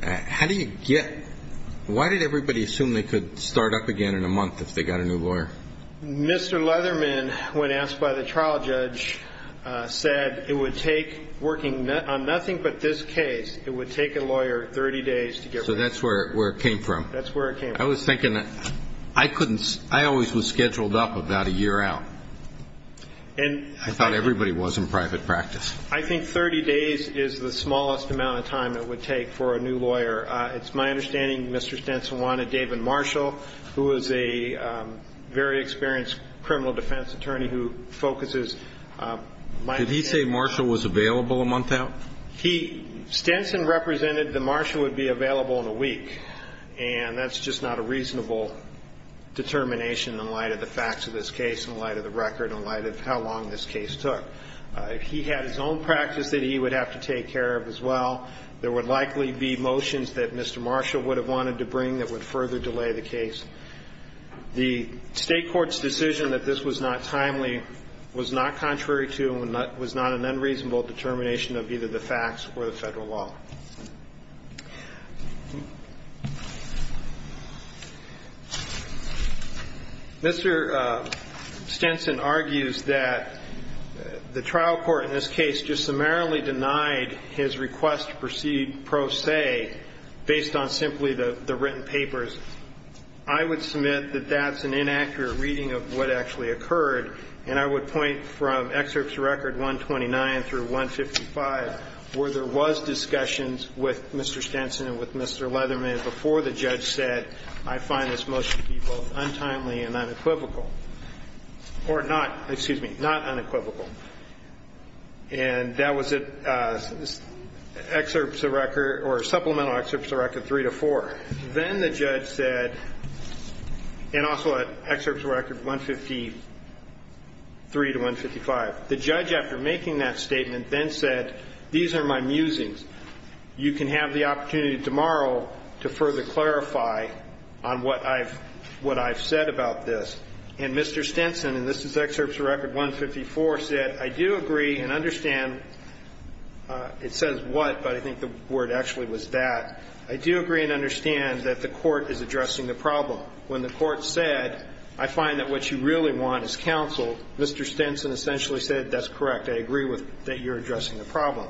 How do you get? Why did everybody assume they could start up again in a month if they got a new lawyer? Mr. Leatherman, when asked by the trial judge, said it would take, working on nothing but this case, it would take a lawyer 30 days to get ready. So that's where it came from. That's where it came from. I was thinking, I always was scheduled up about a year out. I thought everybody was in private practice. I think 30 days is the smallest amount of time it would take for a new lawyer. It's my understanding Mr. Stenson wanted David Marshall, who is a very experienced criminal defense attorney who focuses. Did he say Marshall was available a month out? Stenson represented that Marshall would be available in a week, and that's just not a reasonable determination in light of the facts of this case, in light of the record, in light of how long this case took. He had his own practice that he would have to take care of as well. There would likely be motions that Mr. Marshall would have wanted to bring that would further delay the case. The state court's decision that this was not timely was not contrary to and was not an unreasonable determination of either the facts or the federal law. Mr. Stenson argues that the trial court in this case just summarily denied his request to proceed pro se based on simply the written papers. I would submit that that's an inaccurate reading of what actually occurred, and I would point from excerpts of record 129 through 155 where there was discussions with Mr. Stenson and with Mr. Leatherman before the judge said, I find this motion to be both untimely and unequivocal. Or not, excuse me, not unequivocal. And that was in supplemental excerpts of record three to four. Then the judge said, and also excerpts of record 153 to 155, the judge, after making that statement, then said, these are my musings. You can have the opportunity tomorrow to further clarify on what I've said about this. And Mr. Stenson, and this is excerpts of record 154, said, I do agree and understand. It says what, but I think the word actually was that. I do agree and understand that the court is addressing the problem. When the court said, I find that what you really want is counsel, Mr. Stenson essentially said, that's correct. I agree that you're addressing the problem.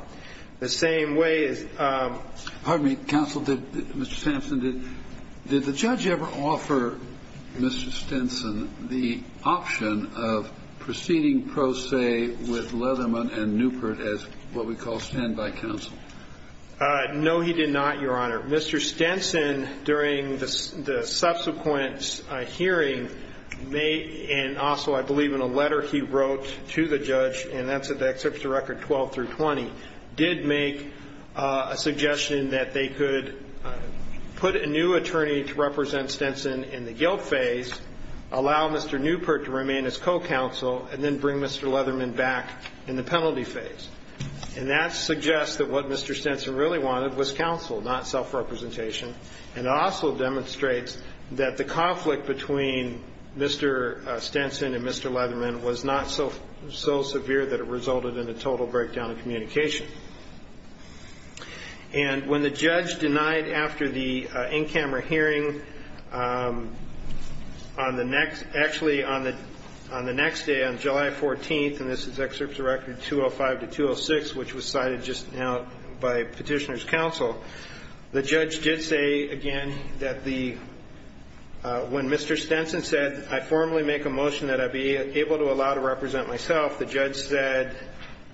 The same way as- Pardon me, counsel, did Mr. Stenson, did the judge ever offer Mr. Stenson the option of proceeding pro se with Leatherman and Newport as what we call standby counsel? No, he did not, Your Honor. Mr. Stenson, during the subsequent hearing, made, and also I believe in a letter he wrote to the judge, and that's in the excerpts of record 12 through 20, did make a suggestion that they could put a new attorney to represent Stenson in the guilt phase, allow Mr. Newport to remain as co-counsel, and then bring Mr. Leatherman back in the penalty phase. And that suggests that what Mr. Stenson really wanted was counsel, not self-representation. And it also demonstrates that the conflict between Mr. Stenson and Mr. Leatherman was not so severe that it resulted in a total breakdown of communication. And when the judge denied after the in-camera hearing on the next, actually on the next day, on July 14th, and this is excerpts of record 205 to 206, which was cited just now by Petitioner's Counsel, the judge did say, again, that the, when Mr. Stenson said, I formally make a motion that I be able to allow to represent myself, the judge said,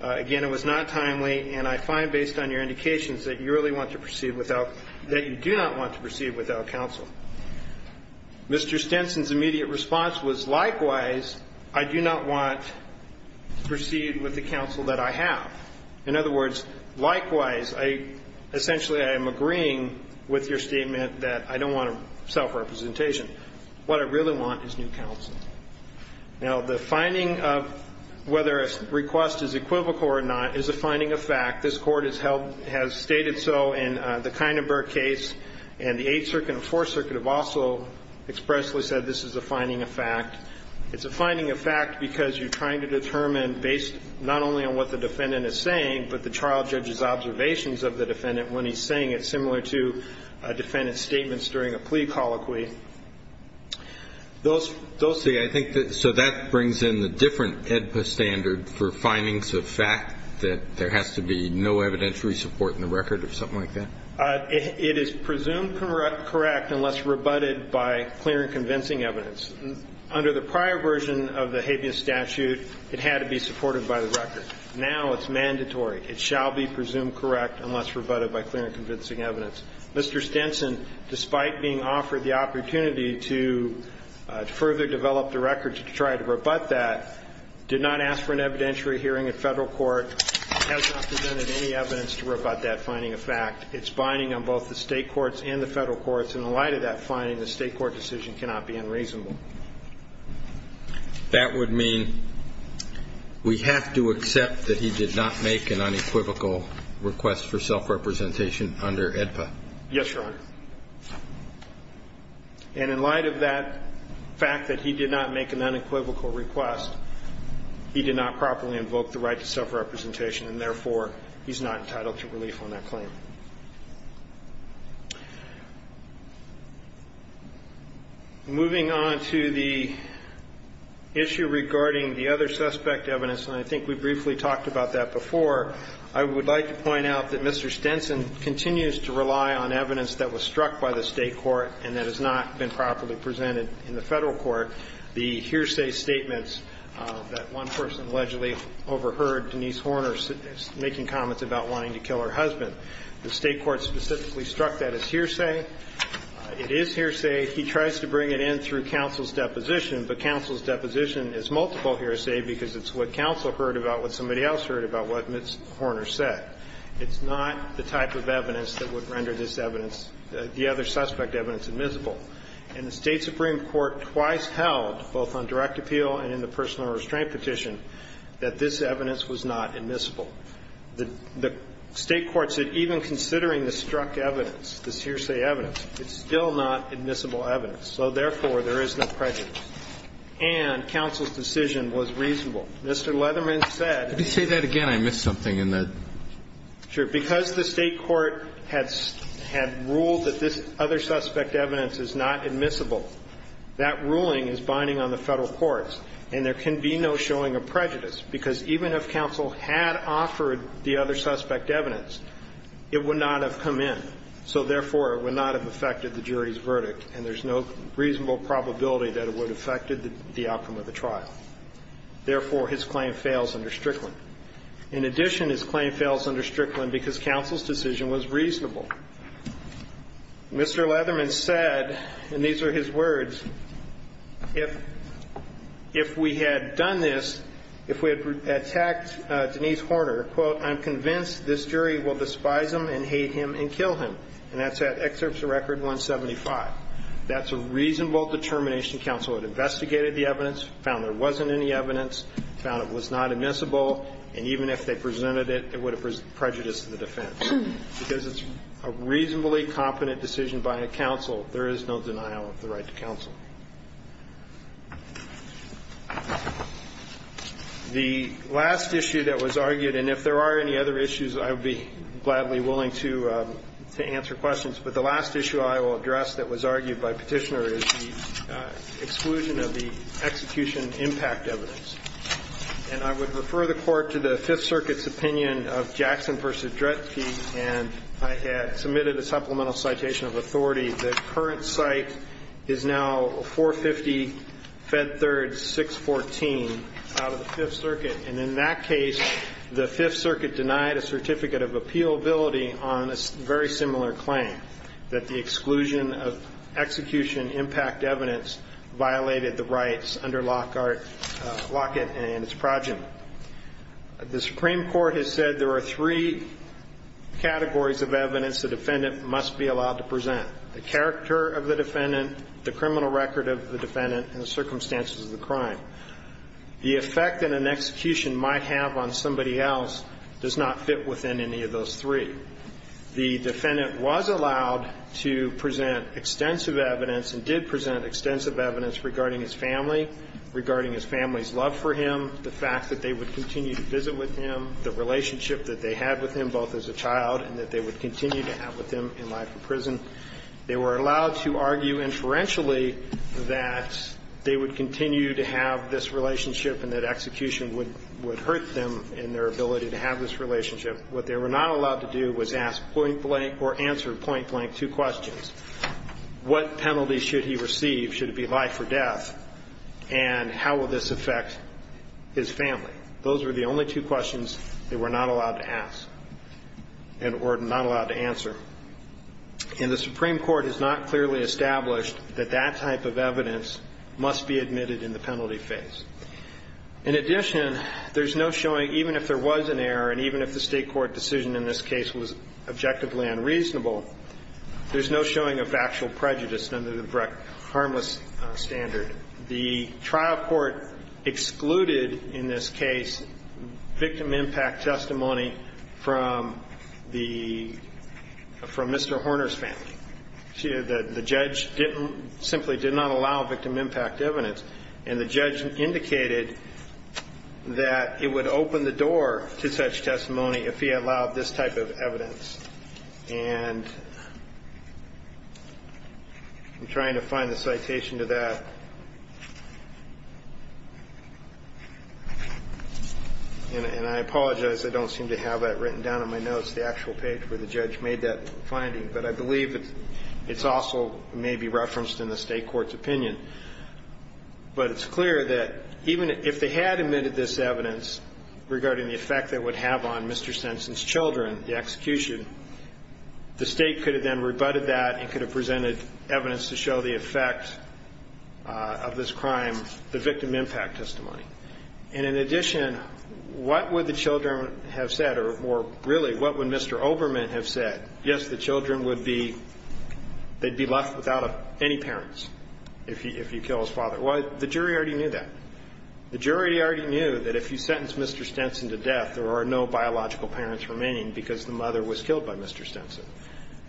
again, it was not timely, and I find, based on your indications, that you really want to proceed without, that you do not want to proceed without counsel. Mr. Stenson's immediate response was, likewise, I do not want to proceed with the counsel that I have. In other words, likewise, I, essentially, I am agreeing with your statement that I don't want self-representation. What I really want is new counsel. Now, the finding of whether a request is equivocal or not is a finding of fact. This Court has held, has stated so in the Kindenberg case, and the Eighth Circuit and Fourth Circuit have also expressly said this is a finding of fact. It's a finding of fact because you're trying to determine, based not only on what the defendant is saying, but the trial judge's observations of the defendant when he's saying it, similar to a defendant's statements during a plea colloquy. Those, those, Okay, I think that, so that brings in a different AEDPA standard for findings of fact, that there has to be no evidentiary support in the record or something like that? It is presumed correct unless rebutted by clear and convincing evidence. Under the prior version of the habeas statute, it had to be supported by the record. Now it's mandatory. It shall be presumed correct unless rebutted by clear and convincing evidence. Mr. Stinson, despite being offered the opportunity to further develop the record to try to rebut that, did not ask for an evidentiary hearing at federal court, has not presented any evidence to rebut that finding of fact. It's binding on both the state courts and the federal courts. In the light of that finding, the state court decision cannot be unreasonable. That would mean we have to accept that he did not make an unequivocal request for self-representation under AEDPA? Yes, Your Honor. And in light of that fact that he did not make an unequivocal request, he did not properly invoke the right to self-representation, and therefore he's not entitled to relief on that claim. Moving on to the issue regarding the other suspect evidence, and I think we briefly talked about that before, I would like to point out that Mr. Stinson continues to rely on evidence that was struck by the state court and that has not been properly presented in the federal court, the hearsay statements that one person allegedly overheard Denise Horner making comments about wanting to kill her husband. The state court specifically struck that as hearsay. It is hearsay. He tries to bring it in through counsel's deposition, but counsel's deposition is multiple hearsay because it's what counsel heard about what somebody else heard about what Ms. Horner said. It's not the type of evidence that would render this evidence, the other suspect evidence, admissible. And the state supreme court twice held, both on direct appeal and in the personal restraint petition, that this evidence was not admissible. The state court said even considering the struck evidence, the hearsay evidence, it's still not admissible evidence, so therefore there is no prejudice. And counsel's decision was reasonable. Mr. Leatherman said- Let me say that again. I missed something in that. Sure. Because the state court had ruled that this other suspect evidence is not admissible, that ruling is binding on the federal courts, and there can be no showing of prejudice because even if counsel had offered the other suspect evidence, it would not have come in. So therefore, it would not have affected the jury's verdict, and there's no reasonable probability that it would have affected the outcome of the trial. Therefore, his claim fails under Strickland. In addition, his claim fails under Strickland because counsel's decision was reasonable. Mr. Leatherman said, and these are his words, if we had done this, if we had attacked Denise Horner, quote, I'm convinced this jury will despise him and hate him and kill him, and that's at excerpt to record 175. That's a reasonable determination. Counsel had investigated the evidence, found there wasn't any evidence, found it was not admissible, and even if they presented it, it would have presented prejudice to the defense because it's a reasonably confident decision by a counsel. There is no denial of the right to counsel. The last issue that was argued, and if there are any other issues, I would be gladly willing to answer questions, but the last issue I will address that was argued by Petitioner is the exclusion of the execution impact evidence, and I would refer the court to the Fifth Circuit's opinion of Jackson v. Dreske, and I had submitted a supplemental citation of authority. The current site is now 450 Fed Third 614 out of the Fifth Circuit, and in that case, the Fifth Circuit denied a certificate of appealability on a very similar claim, that the exclusion of execution impact evidence violated the rights under Lockett and his project. The Supreme Court has said there are three categories of evidence the defendant must be allowed to present, the character of the defendant, the criminal record of the defendant, and the circumstances of the crime. The effect that an execution might have on somebody else does not fit within any of those three. The defendant was allowed to present extensive evidence and did present extensive evidence regarding his family, regarding his family's love for him, the fact that they would continue to visit with him, the relationship that they had with him both as a child and that they would continue to have with him in life in prison. They were allowed to argue inferentially that they would continue to have this relationship and that execution would hurt them in their ability to have this relationship. What they were not allowed to do was ask point-blank or answer point-blank two questions. What penalty should he receive? Should it be life or death? And how would this affect his family? Those were the only two questions they were not allowed to ask and were not allowed to answer. And the Supreme Court has not clearly established that that type of evidence must be admitted in the penalty phase. In addition, there's no showing, even if there was an error and even if the state court decision in this case was objectively unreasonable, there's no showing of factual prejudice under the harmless standard. The trial court excluded, in this case, victim impact testimony from Mr. Horner's family. The judge simply did not allow victim impact evidence and the judge indicated that it would open the door to such testimony if he allowed this type of evidence. And I'm trying to find the citation to that. And I apologize. I don't seem to have that written down on my notes, the actual page where the judge made that finding, but I believe it's also maybe referenced in the state court's opinion. But it's clear that even if they had admitted this evidence regarding the effect it would have on Mr. Stenson's children, the execution, the state could have then rebutted that and could have presented evidence to show the effect of this crime, the victim impact testimony. And in addition, what would the children have said, or really, what would Mr. Olbermann have said? Yes, the children would be left without any parents if he killed his father. Well, the jury already knew that. The jury already knew that if you sentenced Mr. Stenson to death, there are no biological parents remaining because the mother was killed by Mr. Stenson.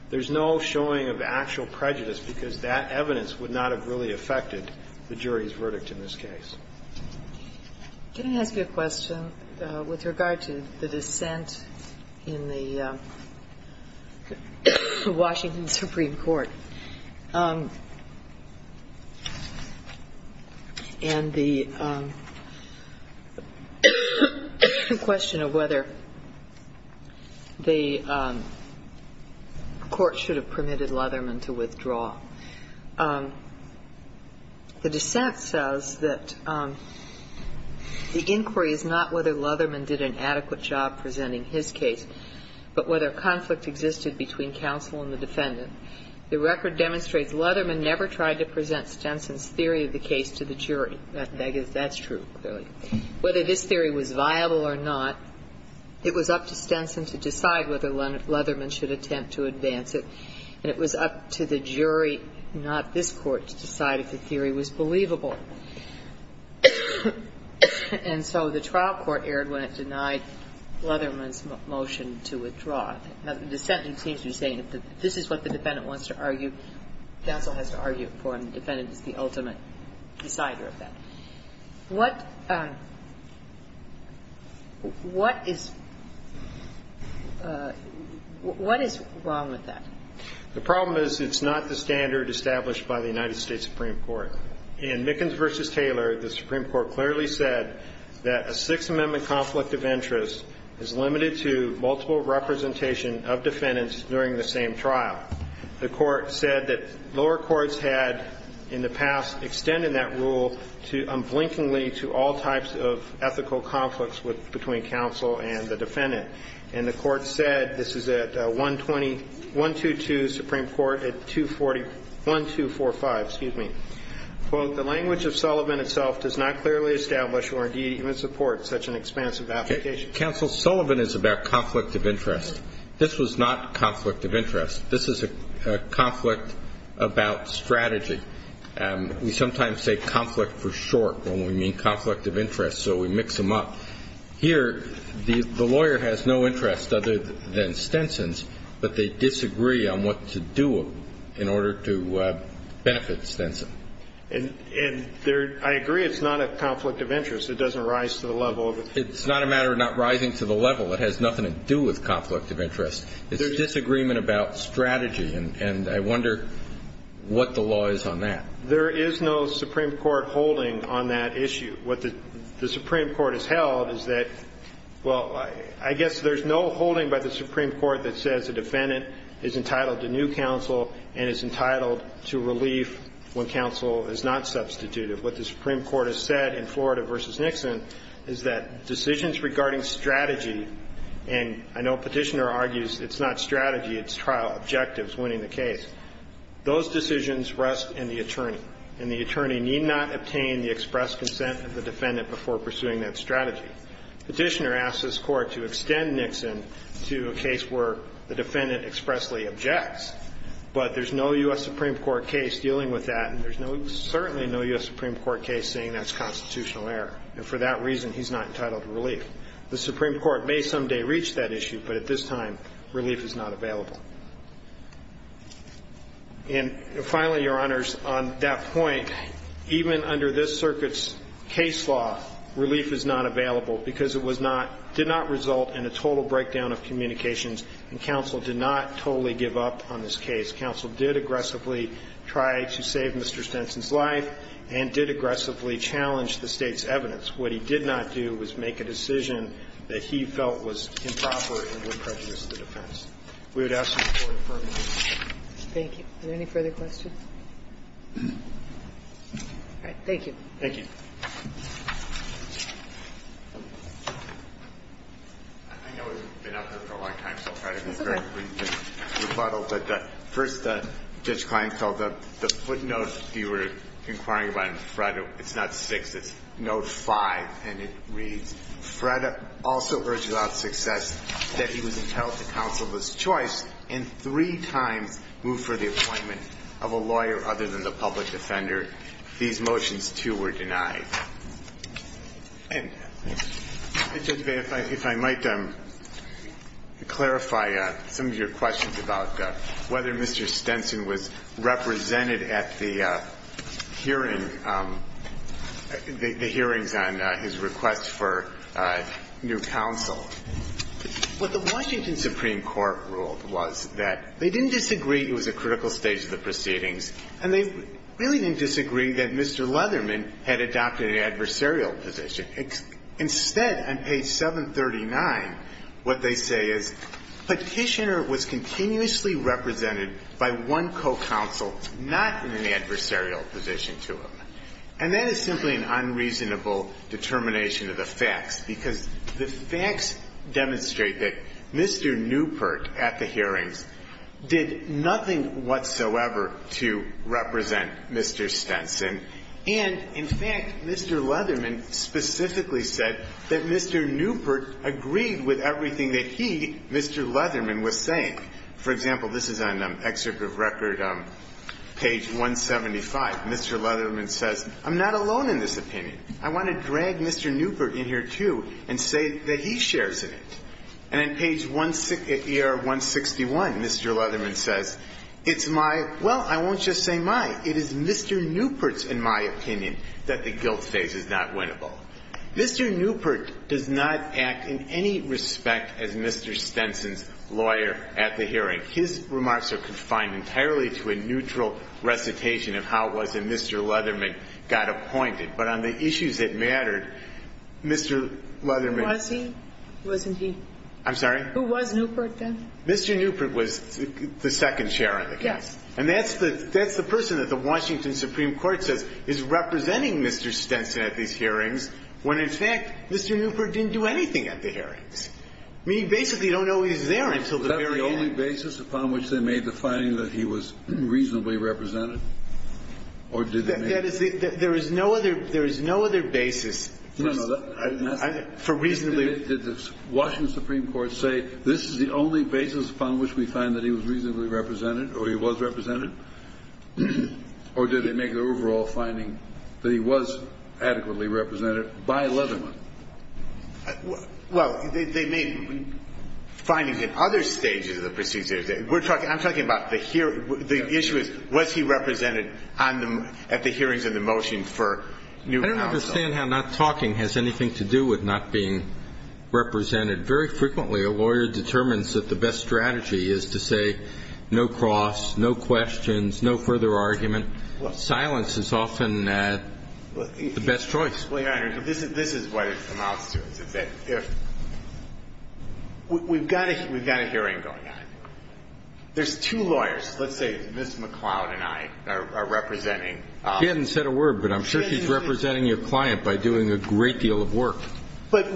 There's no showing of actual prejudice because that evidence would not have really affected the jury's verdict in this case. Can I ask you a question with regard to the dissent in the Washington Supreme Court? And the question of whether the court should have permitted Lutherman to withdraw. The dissent says that the inquiry is not whether Lutherman did an adequate job presenting his case, but whether conflict existed between counsel and the defendant. The record demonstrates Lutherman never tried to present Stenson's theory of the case to the jury. That's true. Whether this theory was viable or not, it was up to Stenson to decide whether Lutherman should attempt to advance it. And it was up to the jury, not this court, to decide if the theory was believable. And so the trial court erred when it denied Lutherman's motion to withdraw. The sentence seems to be saying that this is what the defendant wants to argue, counsel has to argue for, and the defendant is the ultimate decider of that. What is wrong with that? The problem is it's not the standard established by the United States Supreme Court. In Mickens v. Taylor, the Supreme Court clearly said that a Sixth Amendment conflict of interest is limited to multiple representations of defendants during the same trial. The court said that lower courts had, in the past, extended that rule unblinkingly to all types of ethical conflicts between counsel and the defendant. And the court said, this is at 122 Supreme Court at 1245, quote, the language of Sullivan itself does not clearly establish or indeed even support such an expansive application. Counsel, Sullivan is about conflict of interest. This was not conflict of interest. This is a conflict about strategy. We sometimes say conflict for short, and we mean conflict of interest, so we mix them up. Here, the lawyer has no interest other than Stenson's, but they disagree on what to do in order to benefit Stenson. And I agree it's not a conflict of interest. It doesn't rise to the level. It's not a matter of not rising to the level. It has nothing to do with conflict of interest. There's disagreement about strategy, and I wonder what the law is on that. There is no Supreme Court holding on that issue. What the Supreme Court has held is that, well, I guess there's no holding by the Supreme Court that says the defendant is entitled to new counsel and is entitled to relief when counsel is not substituted. What the Supreme Court has said in Florida v. Nixon is that decisions regarding strategy, and I know Petitioner argues it's not strategy, it's trial objectives winning the case. Those decisions rest in the attorney, and the attorney need not obtain the express consent of the defendant before pursuing that strategy. Petitioner asks his court to extend Nixon to a case where the defendant expressly objects, but there's no U.S. Supreme Court case dealing with that, and there's certainly no U.S. Supreme Court case saying that's constitutional error, and for that reason he's not entitled to relief. The Supreme Court may someday reach that issue, but at this time relief is not available. And finally, Your Honors, on that point, even under this circuit's case law, relief is not available because it did not result in a total breakdown of communications, and counsel did not totally give up on this case. Counsel did aggressively try to save Mr. Stinson's life and did aggressively challenge the state's evidence. What he did not do was make a decision that he felt was improper and would prejudice the defense. We would ask the Supreme Court to pardon me. Thank you. Are there any further questions? All right. Thank you. Thank you. I know we've been up here for a long time, so I'll try to be very brief. The first, Judge Kleinfeld, the footnotes you were inquiring about in Fred, it's not six, it's note five, and it reads, Fred also urged about success that he would tell the counsel of his choice and three-time move for the appointment of a lawyer other than the public defender. These motions, too, were denied. If I might clarify some of your questions about whether Mr. Stinson was represented at the hearings on his request for new counsel. What the Washington Supreme Court ruled was that they didn't disagree it was a critical stage of the proceedings and they really didn't disagree that Mr. Leatherman had adopted an adversarial position. Instead, on page 739, what they say is, Petitioner was continuously represented by one co-counsel not in an adversarial position to him. And that is simply an unreasonable determination of the facts because the facts demonstrate that Mr. Newport, at the hearings, did nothing whatsoever to represent Mr. Stinson. And, in fact, Mr. Leatherman specifically said that Mr. Newport agreed with everything that he, Mr. Leatherman, was saying. For example, this is on the excerpt of record, page 175. Mr. Leatherman says, I'm not alone in this opinion. I want to drag Mr. Newport in here, too, and say that he shares it. And on page 161, Mr. Leatherman says, It's my, well, I won't just say my, it is Mr. Newport's, in my opinion, that the guilt stage is not winnable. Mr. Newport does not act in any respect as Mr. Stinson's lawyer at the hearing. His remarks are confined entirely to a neutral recitation of how it was that Mr. Leatherman got appointed. But on the issues that mattered, Mr. Leatherman- Who was he? Who wasn't he? I'm sorry? Who was Newport, then? Mr. Newport was the second chair of the hearing. Yes. And that's the person that the Washington Supreme Court said is representing Mr. Stinson at these hearings, when, in fact, Mr. Newport didn't do anything at the hearings. I mean, he basically don't know he's there until the very end. Was that the only basis upon which they made the finding that he was reasonably represented? Or did they make- There is no other basis for reasonably- Did the Washington Supreme Court say, this is the only basis upon which we find that he was reasonably represented or he was represented? Or did they make an overall finding that he was adequately represented by Leatherman? Well, they made findings in other stages of the procedure. I'm talking about the issue of what he represented at the hearings and the motion for Newport- I don't understand how not talking has anything to do with not being represented. Very frequently, a lawyer determines that the best strategy is to say, no cross, no questions, no further argument. Silence is often the best choice. We've got a hearing going on. There's two lawyers. Let's say Ms. McClellan and I are representing- She hasn't said a word, but I'm sure she's representing your client by doing a great deal of work. But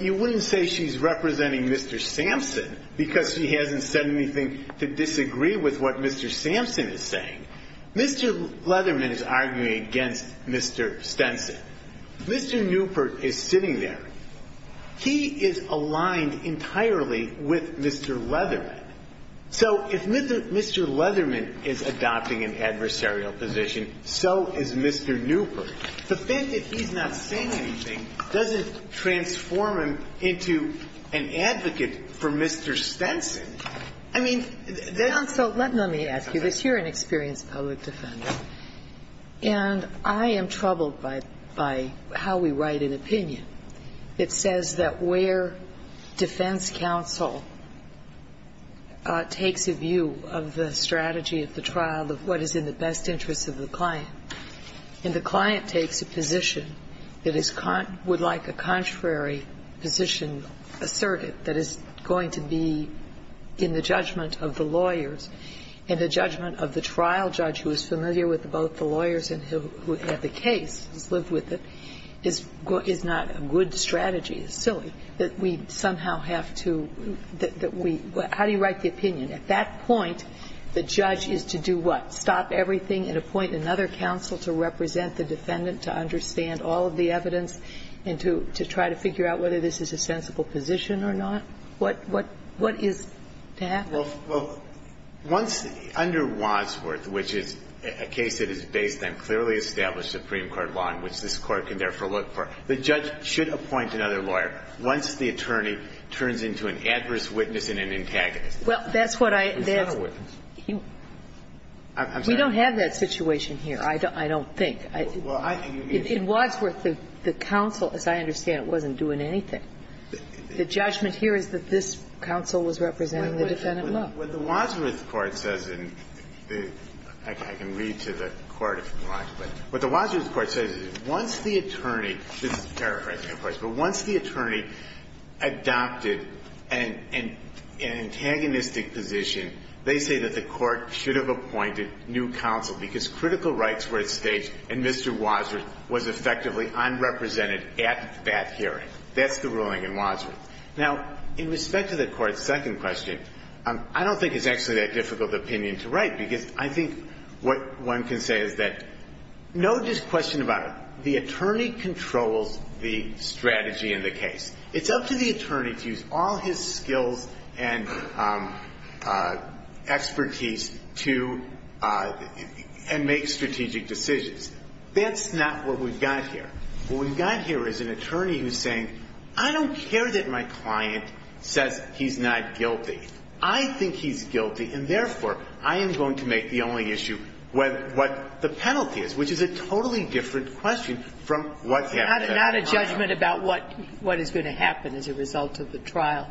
you wouldn't say she's representing Mr. Stinson, because she hasn't said anything to disagree with what Mr. Stinson is saying. Mr. Leatherman is arguing against Mr. Stinson. Mr. Newport is sitting there. He is aligned entirely with Mr. Leatherman. So if Mr. Leatherman is adopting an adversarial position, so is Mr. Newport. The fact that he's not saying anything doesn't transform him into an advocate for Mr. Stinson. Counsel, let me ask you this. You're an experienced public defender, and I am troubled by how we write an opinion. It says that where defense counsel takes a view of the strategy at the trial of what is in the best interest of the client, and the client takes a position that would like a contrary position asserted that is going to be in the judgment of the lawyers, and the judgment of the trial judge who is familiar with both the lawyers and who had the case, who lived with it, is not a good strategy. It's silly that we somehow have to-how do you write the opinion? At that point, the judge is to do what? Stop everything and appoint another counsel to represent the defendant, to understand all of the evidence, and to try to figure out whether this is a sensible position or not? What is to happen? Well, under Wadsworth, which is a case that is based on clearly established Supreme Court law, and which this court can therefore look for, the judge should appoint another lawyer once the attorney turns into an adverse witness and an antagonist. Well, that's what I-we don't have that situation here, I don't think. Well, I- In Wadsworth, the counsel, as I understand it, wasn't doing anything. The judgment here is that this counsel was representing the defendant. Well, the Wadsworth court doesn't-in fact, I can read to the court in Wadsworth. What the Wadsworth court says is once the attorney-this is paraphrasing, of course-but once the attorney adopted an antagonistic position, they say that the court should have appointed new counsel because critical rights were at stake and Mr. Wadsworth was effectively unrepresented at that hearing. That's the ruling in Wadsworth. Now, in respect to the court's second question, I don't think it's actually that difficult of an opinion to write because I think what one can say is that no disquestion about it. The attorney controls the strategy in the case. It's up to the attorney to use all his skills and expertise to-and make strategic decisions. That's not what we've got here. What we've got here is an attorney who's saying, I don't care that my client says he's not guilty. I think he's guilty and, therefore, I am going to make the only issue what the penalty is, which is a totally different question from what- Not a judgment about what is going to happen as a result of the trial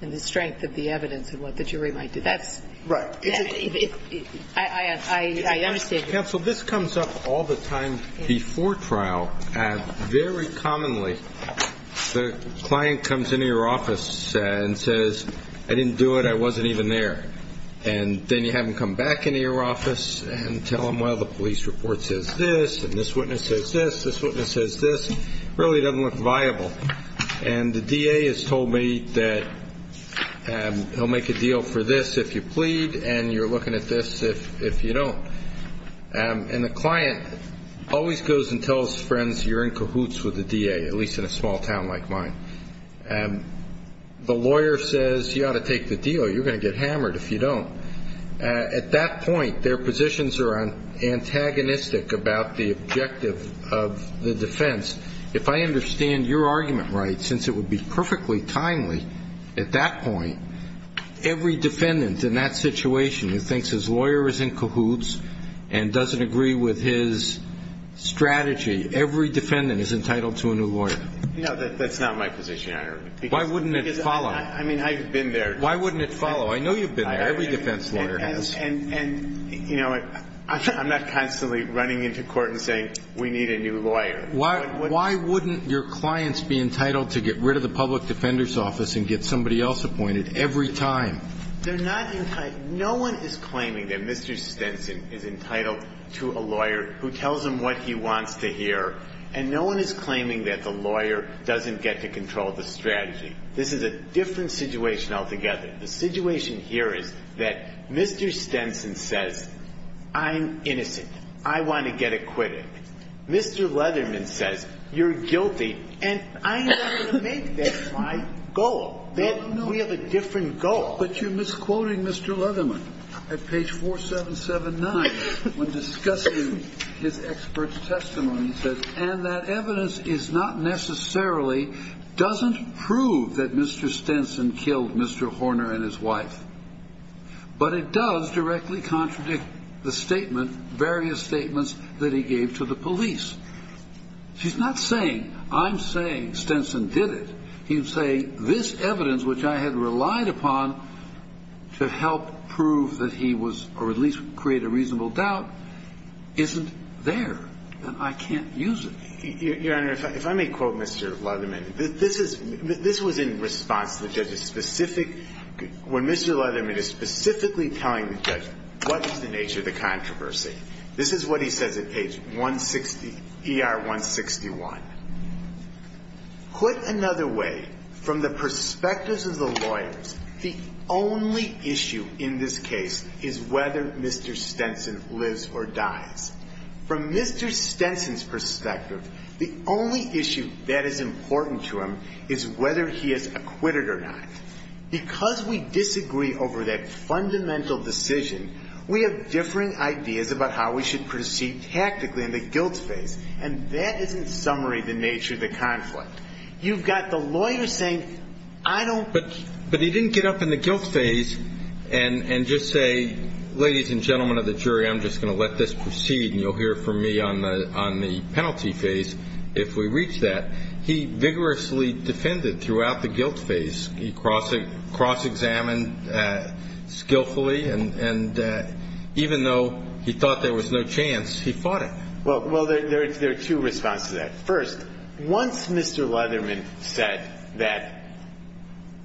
and the strength of the evidence of what the jury might do. That's-I understand. Counsel, this comes up all the time before trial. Very commonly, the client comes into your office and says, I didn't do it. I wasn't even there. And then you have them come back into your office and tell them, well, the police report says this and this witness says this, this witness says this. It really doesn't look viable. And the DA has told me that he'll make a deal for this if you plead and you're looking at this if you don't. And the client always goes and tells friends, you're in cahoots with the DA, at least in a small town like mine. The lawyer says, you ought to take the deal. You're going to get hammered if you don't. At that point, their positions are antagonistic about the objective of the defense. If I understand your argument right, since it would be perfectly timely at that point, every defendant in that situation who thinks his lawyer is in cahoots and doesn't agree with his strategy, every defendant is entitled to a new lawyer. No, that's not my position. Why wouldn't it follow? Why wouldn't it follow? I know you've been there. Every defense lawyer has. And, you know, I'm not constantly running into court and saying, we need a new lawyer. Why wouldn't your clients be entitled to get rid of the public defender's office and get somebody else appointed every time? They're not entitled. No one is claiming that Mr. Stenson is entitled to a lawyer who tells him what he wants to hear, and no one is claiming that the lawyer doesn't get to control the strategy. This is a different situation altogether. The situation here is that Mr. Stenson says, I'm innocent. I want to get acquitted. Mr. Leatherman says, you're guilty, and I'm not going to make that my goal. We have a different goal. But you're misquoting Mr. Leatherman at page 4779 when discussing his expert testimony. And that evidence is not necessarily, doesn't prove that Mr. Stenson killed Mr. Horner and his wife, but it does directly contradict the statement, various statements that he gave to the police. He's not saying, I'm saying Stenson did it. He's saying this evidence, which I had relied upon to help prove that he was, or at least create a reasonable doubt, isn't there. I can't use it. Your Honor, if I may quote Mr. Leatherman, this was in response, which has a specific, where Mr. Leatherman is specifically telling him, says, what's the nature of the controversy? This is what he says at page 160, ER 161. Put another way, from the perspectives of the lawyers, the only issue in this case is whether Mr. Stenson lives or dies. From Mr. Stenson's perspective, the only issue that is important to him is whether he has acquitted or not. Because we disagree over that fundamental decision, we have differing ideas about how we should proceed tactically in the guilt phase. And that is, in summary, the nature of the conflict. You've got the lawyer saying, I don't. But he didn't get up in the guilt phase and just say, ladies and gentlemen of the jury, I'm just going to let this proceed and you'll hear from me on the penalty phase if we reach that. He vigorously defended throughout the guilt phase. He cross-examined skillfully, and even though he thought there was no chance, he fought it. Well, there are two responses to that. First, once Mr. Leatherman said that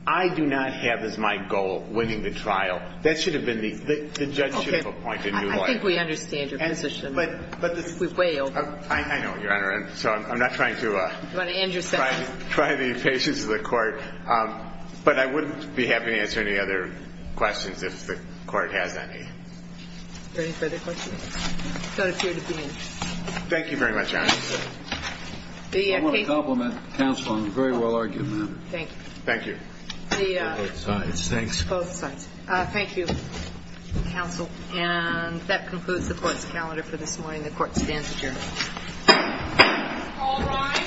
I do not have as my goal winning the trial, that should have been the injunctive point. I think we understand your position. We're way over. I know, Your Honor. I'm not trying to try the patience of the court, but I wouldn't be happy to answer any other questions if the court has any. Is there any further questions? The court is adjourned. Thank you very much, Your Honor. I want to compliment counsel on a very well-argued matter. Thank you. Both sides. Both sides. Thank you, counsel. And that concludes the court's calendar for this morning. The court stands adjourned.